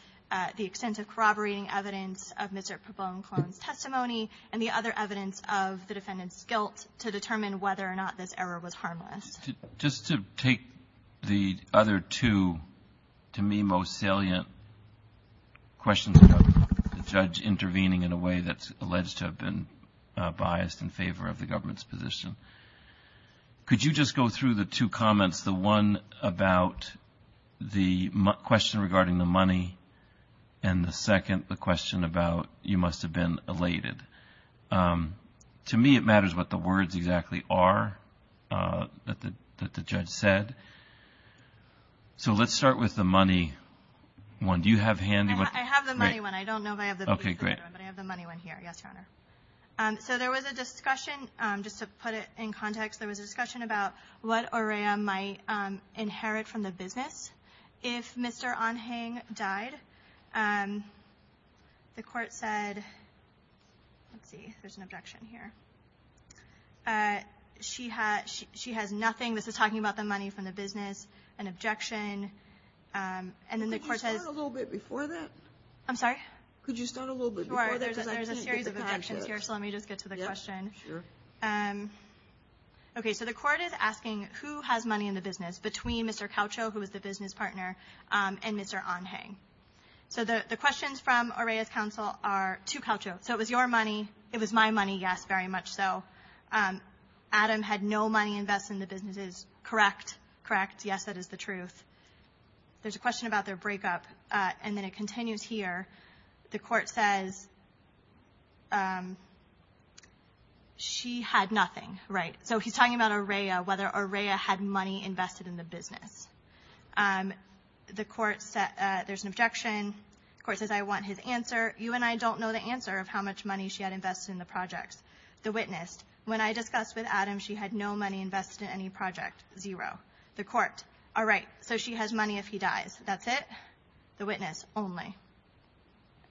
the extensive corroborating evidence of Mr. Pabon's testimony, and the other evidence of the defendant's guilt to determine whether or not this error was harmless. Just to take the other two, to me, most salient questions about the judge intervening in a way that's alleged to have been biased in favor of the government's position. Could you just go through the two comments? The one about the question regarding the money and the second, the question about you must have been elated. To me, it matters what the words exactly are that the judge said. So let's start with the money one. Do you have handy? I have the money one. I don't know if I have the money one here. Yes, Your Honor. So there was a discussion, just to put it in context, there was a discussion about what Aurea might inherit from the business if Mr. Anhang died. The court said, let's see, there's an objection here. She has nothing. This is talking about the money from the business, an objection. Could you start a little bit before that? I'm sorry? Could you start a little bit before that? Sure. There's a series of objections here, so let me just get to the question. Sure. Okay. So the court is asking who has money in the business between Mr. Caucho, who is the business partner, and Mr. Anhang. So the questions from Aurea's counsel are to Caucho. So it was your money. It was my money, yes, very much so. Adam had no money invested in the businesses, correct? Correct. Yes, that is the truth. There's a question about their breakup, and then it continues here. The court says she had nothing, right? So he's talking about Aurea, whether Aurea had money invested in the business. The court said there's an objection. The court says I want his answer. You and I don't know the answer of how much money she had invested in the project. The witness, when I discussed with Adam, she had no money invested in any project, zero. The court, all right, so she has money if he dies. That's it? The witness only.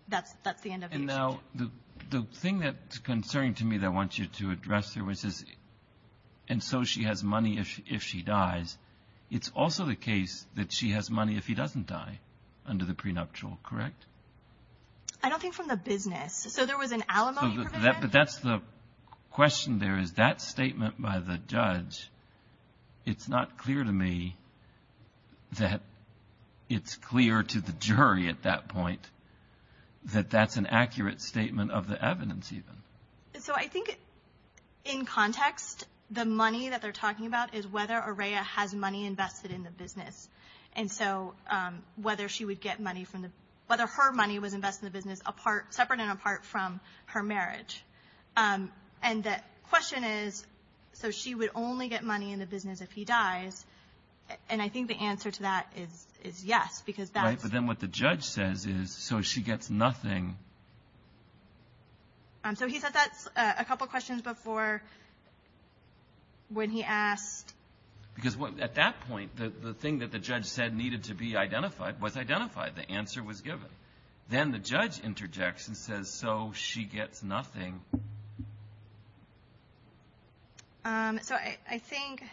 That's the end of it. And now the thing that's concerning to me that I want you to address here is this. And so she has money if she dies. It's also the case that she has money if he doesn't die under the prenuptial, correct? I don't think from the business. So there was an alimony, correct? But that's the question there is that statement by the judge, it's not clear to me that it's clear to the jury at that point that that's an accurate statement of the evidence even. So I think in context, the money that they're talking about is whether Aurea has money invested in the business. And so whether she would get money from the – whether her money was invested in the business separate and apart from her marriage. And the question is, so she would only get money in the business if he dies. And I think the answer to that is yes, because that's – Right, but then what the judge says is, so she gets nothing. So he said that a couple questions before when he asked – Because at that point, the thing that the judge said needed to be identified was identified. The answer was given. Then the judge interjects and says, so she gets nothing. So I think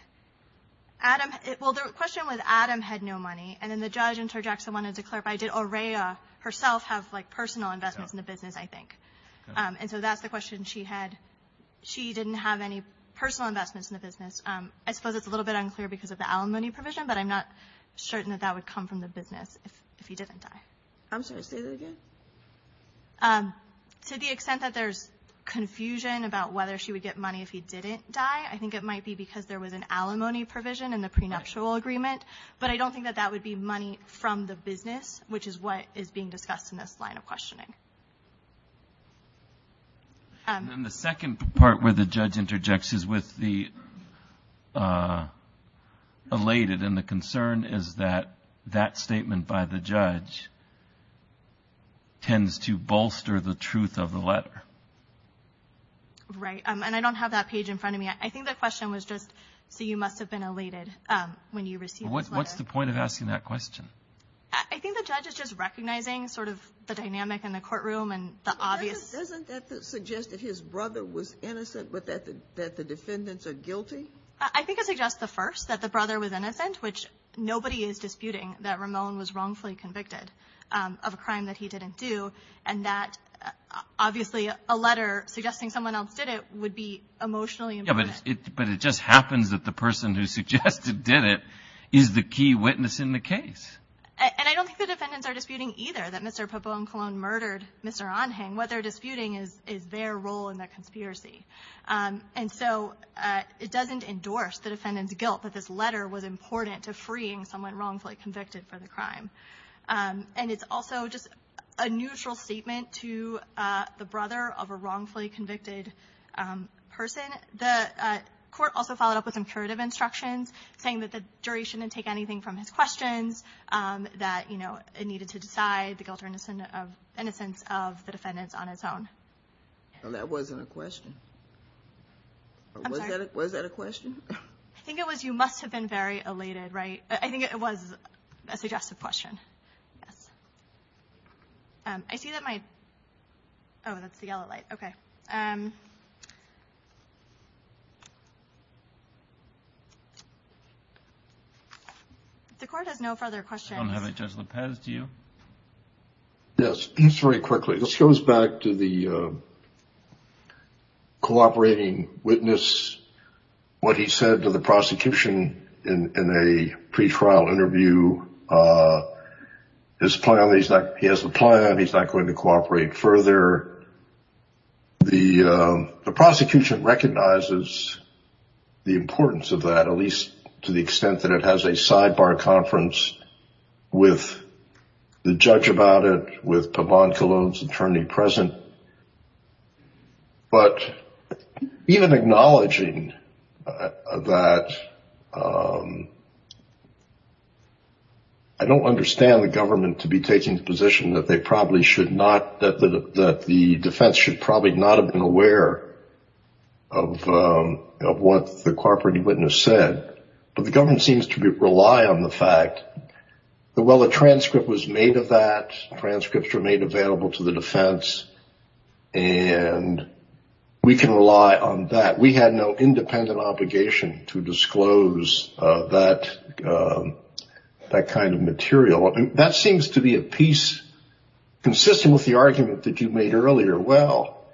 Adam – well, the question was Adam had no money. And then the judge interjects and wanted to clarify, did Aurea herself have like personal investments in the business, I think? And so that's the question. I suppose it's a little bit unclear because of the alimony provision, but I'm not certain that that would come from the business if he didn't die. I'm sorry, say that again. To the extent that there's confusion about whether she would get money if he didn't die, I think it might be because there was an alimony provision in the prenuptial agreement. But I don't think that that would be money from the business, which is what is being discussed in this line of questioning. And then the second part where the judge interjects is with the elated. And the concern is that that statement by the judge tends to bolster the truth of the letter. Right. And I don't have that page in front of me. I think the question was just, so you must have been elated when you received this letter. What's the point of asking that question? I think the judge is just recognizing sort of the dynamic in the courtroom and the obvious. Doesn't that suggest that his brother was innocent, that the defendants are guilty? I think it suggests at first that the brother was innocent, which nobody is disputing that Ramon was wrongfully convicted of a crime that he didn't do. And that, obviously, a letter suggesting someone else did it would be emotionally important. Yes, but it just happens that the person who suggested did it is the key witness in the case. And I don't think the defendants are disputing either that Mr. Poponcolon murdered Mr. Anhang. What they're disputing is their role in the conspiracy. And so it doesn't endorse the defendant's guilt that this letter was important to freeing someone wrongfully convicted for the crime. And it's also just a neutral statement to the brother of a wrongfully convicted person. The court also followed up with incurative instructions, saying that the jury shouldn't take anything from his questions, that it needed to decide the guilt or innocence of the defendants on its own. That wasn't a question. I'm sorry. Was that a question? I think it was, you must have been very elated, right? I think it was a suggestive question. I see that my – oh, that's the yellow light. Okay. The court has no further questions. I don't have it. Judge Lopez, do you? Yes, just very quickly. This goes back to the cooperating witness, what he said to the prosecution in a pretrial interview. He has the plan. He's not going to cooperate further. The prosecution recognizes the importance of that, at least to the extent that it has a sidebar conference with the judge about it, with Pavon Cologne's attorney present. But even acknowledging that – I don't understand the government to be taking the position that they probably should not – that the defense should probably not have been aware of what the cooperating witness said, but the government seems to rely on the fact that while a transcript was made of that, transcripts were made available to the defense, and we can rely on that. We had no independent obligation to disclose that kind of material. That seems to be a piece consistent with the argument that you made earlier. Well,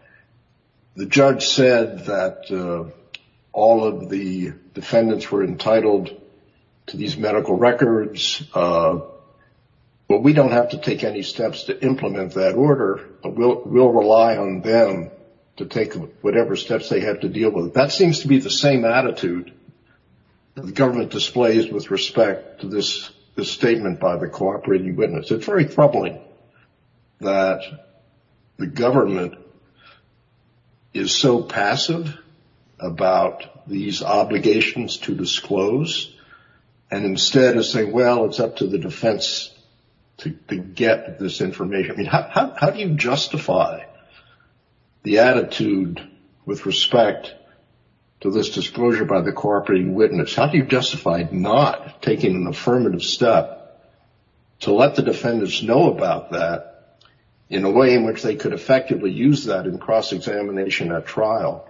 the judge said that all of the defendants were entitled to these medical records, but we don't have to take any steps to implement that order. We'll rely on them to take whatever steps they have to deal with it. That seems to be the same attitude the government displays with respect to this statement by the cooperating witness. It's very troubling that the government is so passive about these obligations to disclose, and instead is saying, well, it's up to the defense to get this information. I mean, how do you justify the attitude with respect to this disclosure by the cooperating witness? How do you justify not taking an affirmative step to let the defendants know about that in a way in which they could effectively use that in cross-examination at trial,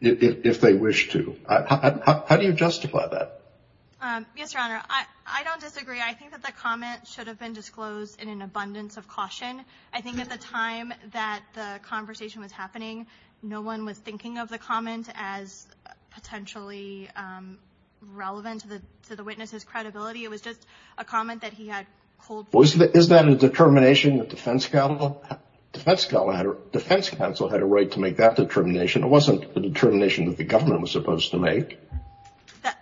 if they wish to? How do you justify that? Yes, Your Honor. I don't disagree. I think that the comment should have been disclosed in an abundance of caution. I think at the time that the conversation was happening, no one was thinking of the comment as potentially relevant to the witness's credibility. It was just a comment that he had pulled. It wasn't the determination that the government was supposed to make.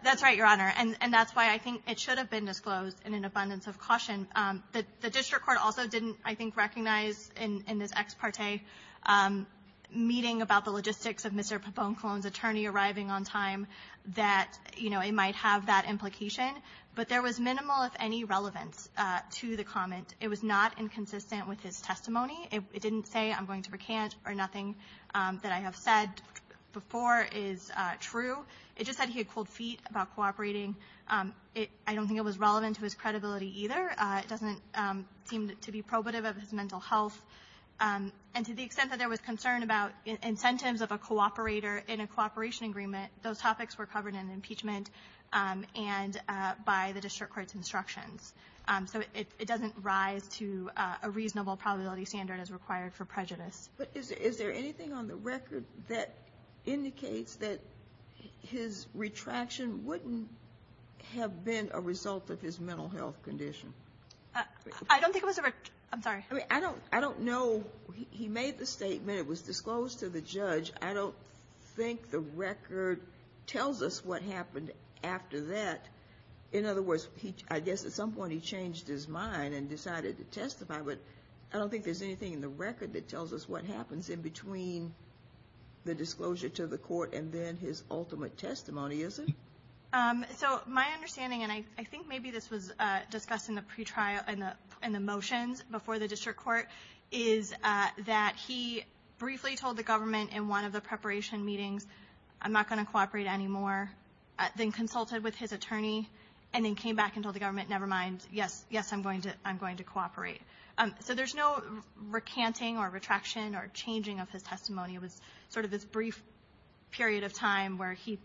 That's right, Your Honor. And that's why I think it should have been disclosed in an abundance of caution. The district court also didn't, I think, recognize in this ex parte meeting about the logistics of Mr. Poponcolon's attorney arriving on time that it might have that implication. But there was minimal, if any, relevance to the comment. It was not inconsistent with his testimony. It didn't say I'm going to recant or nothing that I have said before is true. It just said he had pulled feet about cooperating. I don't think it was relevant to his credibility either. It doesn't seem to be probative of his mental health. And to the extent that there was concern about incentives of a cooperator in a cooperation agreement, those topics were covered in impeachment and by the district court's instructions. So it doesn't rise to a reasonable probability standard as required for prejudice. But is there anything on the record that indicates that his retraction wouldn't have been a result of his mental health condition? I don't think it was a record. I'm sorry. I don't know. He made the statement. It was disclosed to the judge. I don't think the record tells us what happened after that. In other words, I guess at some point he changed his mind and decided to testify. But I don't think there's anything in the record that tells us what happens in between the disclosure to the court and then his ultimate testimony, is there? So my understanding, and I think maybe this was discussed in the motions before the district court, is that he briefly told the government in one of the preparation meetings, I'm not going to cooperate anymore, then consulted with his attorney, and then came back and told the government, never mind, yes, yes, I'm going to cooperate. So there's no recanting or retraction or changing of his testimony. It was sort of this brief period of time where he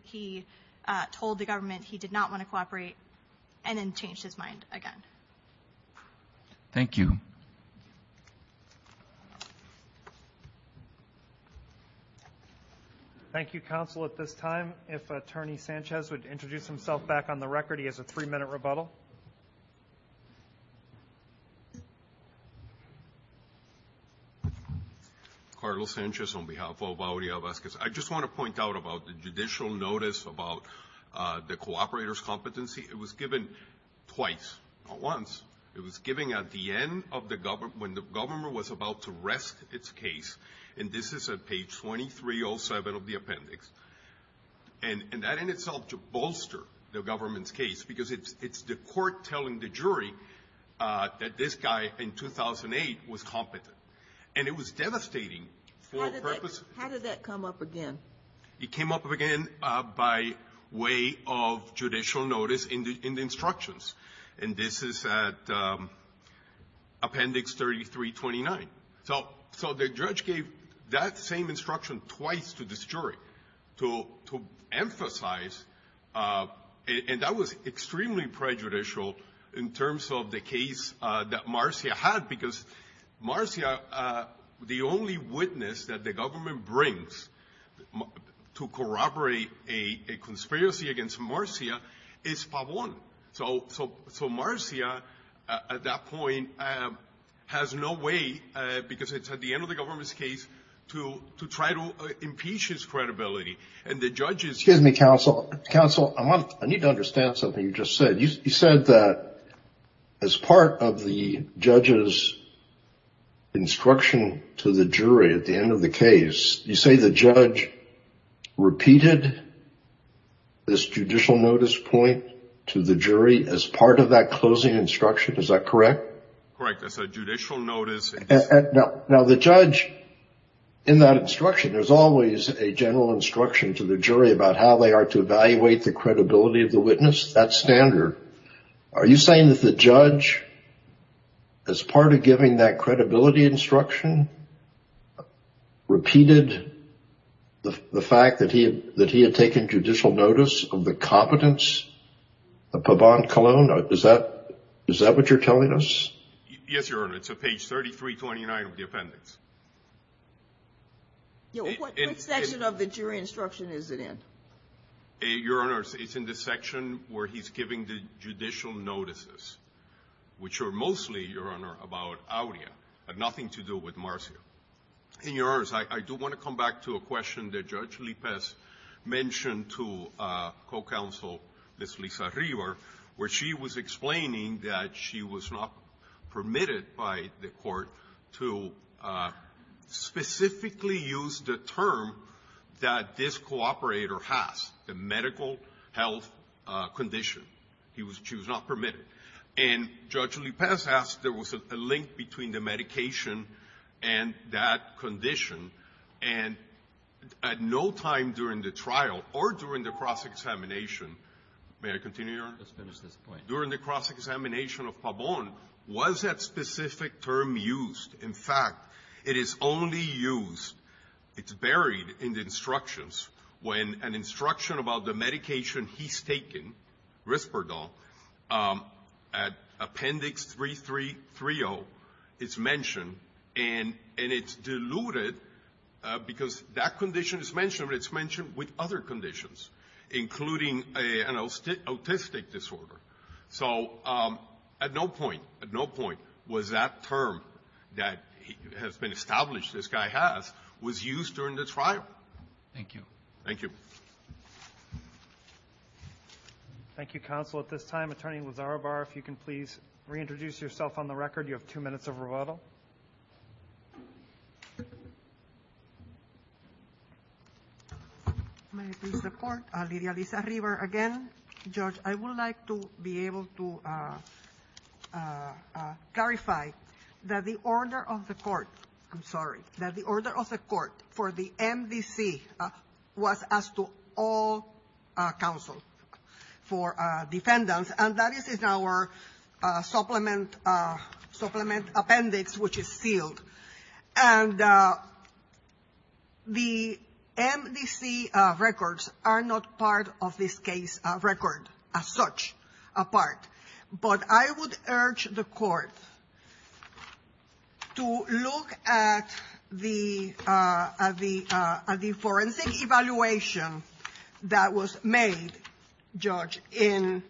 told the government he did not want to cooperate and then changed his mind again. Thank you. Thank you. Thank you, counsel. At this time, if Attorney Sanchez would introduce himself back on the record. He has a three-minute rebuttal. Carlos Sanchez on behalf of Audio Vasquez. I just want to point out about the judicial notice about the cooperator's competency. It was given twice, not once. It was given at the end of the government, when the government was about to rest its case, and this is at page 2307 of the appendix. And that in itself to bolster the government's case, because it's the court telling the jury that this guy in 2008 was competent. And it was devastating. How did that come up again? It came up again by way of judicial notice in the instructions. And this is at appendix 3329. So the judge gave that same instruction twice to this jury to emphasize, and that was extremely prejudicial in terms of the case that Marcia had, because Marcia, the only witness that the government brings to corroborate a conspiracy against Marcia, is Pavon. So Marcia at that point has no way, because it's at the end of the government's case, to try to impeach his credibility. And the judge is – Excuse me, counsel. Counsel, I need to understand something you just said. You said that as part of the judge's instruction to the jury at the end of the case, you say the judge repeated this judicial notice point to the jury as part of that closing instruction. Is that correct? Correct. That's a judicial notice. Now, the judge, in that instruction, there's always a general instruction to the jury about how they are to evaluate the credibility of the witness. That's standard. Are you saying that the judge, as part of giving that credibility instruction, repeated the fact that he had taken judicial notice of the competence of Pavon Colon? Is that what you're telling us? Yes, Your Honor. It's on page 3329 of the appendix. What section of the jury instruction is it in? Your Honor, it's in the section where he's giving the judicial notices, which are mostly, Your Honor, about Auria, have nothing to do with Marcia. And, Your Honor, I do want to come back to a question that Judge Lippest mentioned to co-counsel, Ms. Lisa River, where she was explaining that she was not permitted by the court to specifically use the term that this cooperator has, the medical health condition. She was not permitted. And Judge Lippest asked, there was a link between the medication and that condition, and at no time during the trial or during the cross-examination, may I continue, Your Honor? Yes, please. During the cross-examination of Pavon, was that specific term used? In fact, it is only used. It's buried in the instructions. When an instruction about the medication he's taken, Risperdal, at appendix 3330, it's mentioned, and it's diluted because that condition is mentioned, and it's mentioned with other conditions, including an autistic disorder. So at no point was that term that has been established, this guy has, was used during this trial. Thank you. Thank you. Thank you, counsel. At this time, Attorney Lazarovar, if you can please reintroduce yourself on the record. You have two minutes of rebuttal. May I please report? Lidia Alizar-River again. Judge, I would like to be able to clarify that the order of the court, I'm sorry, that the order of the court for the MDC was as to all counsel for defendants, and that is in our supplement appendix, which is sealed. And the MDC records are not part of this case record as such, apart. But I would urge the court to look at the forensic evaluation that was made, Judge, in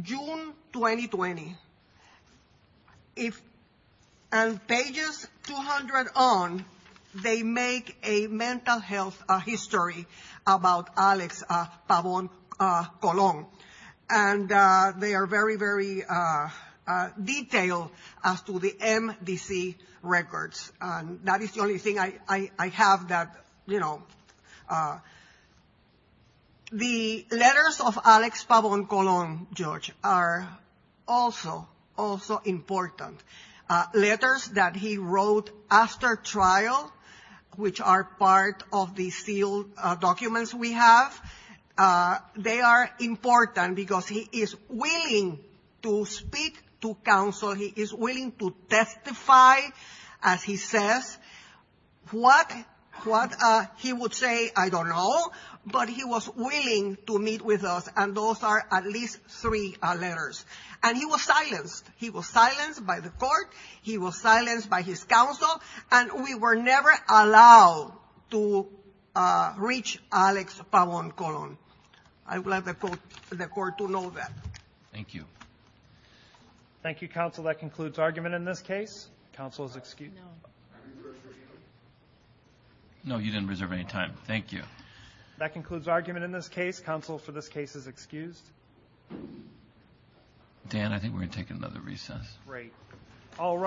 June 2020. And pages 200 on, they make a mental health history about Alex Pavon Colon. And they are very, very detailed as to the MDC records. And that is the only thing I have that, you know. The letters of Alex Pavon Colon, Judge, are also, also important. Letters that he wrote after trial, which are part of the sealed documents we have, they are important because he is willing to speak to counsel. He is willing to testify, as he says, what he would say, I don't know. But he was willing to meet with us. And those are at least three letters. And he was silenced. He was silenced by the court. He was silenced by his counsel. And we were never allowed to reach Alex Pavon Colon. I'd like the court to know that. Thank you. Thank you, counsel. That concludes argument in this case. Counsel is excused. No, you didn't reserve any time. Thank you. That concludes argument in this case. Counsel for this case is excused. Dan, I think we're going to take another recess. Great. All rise.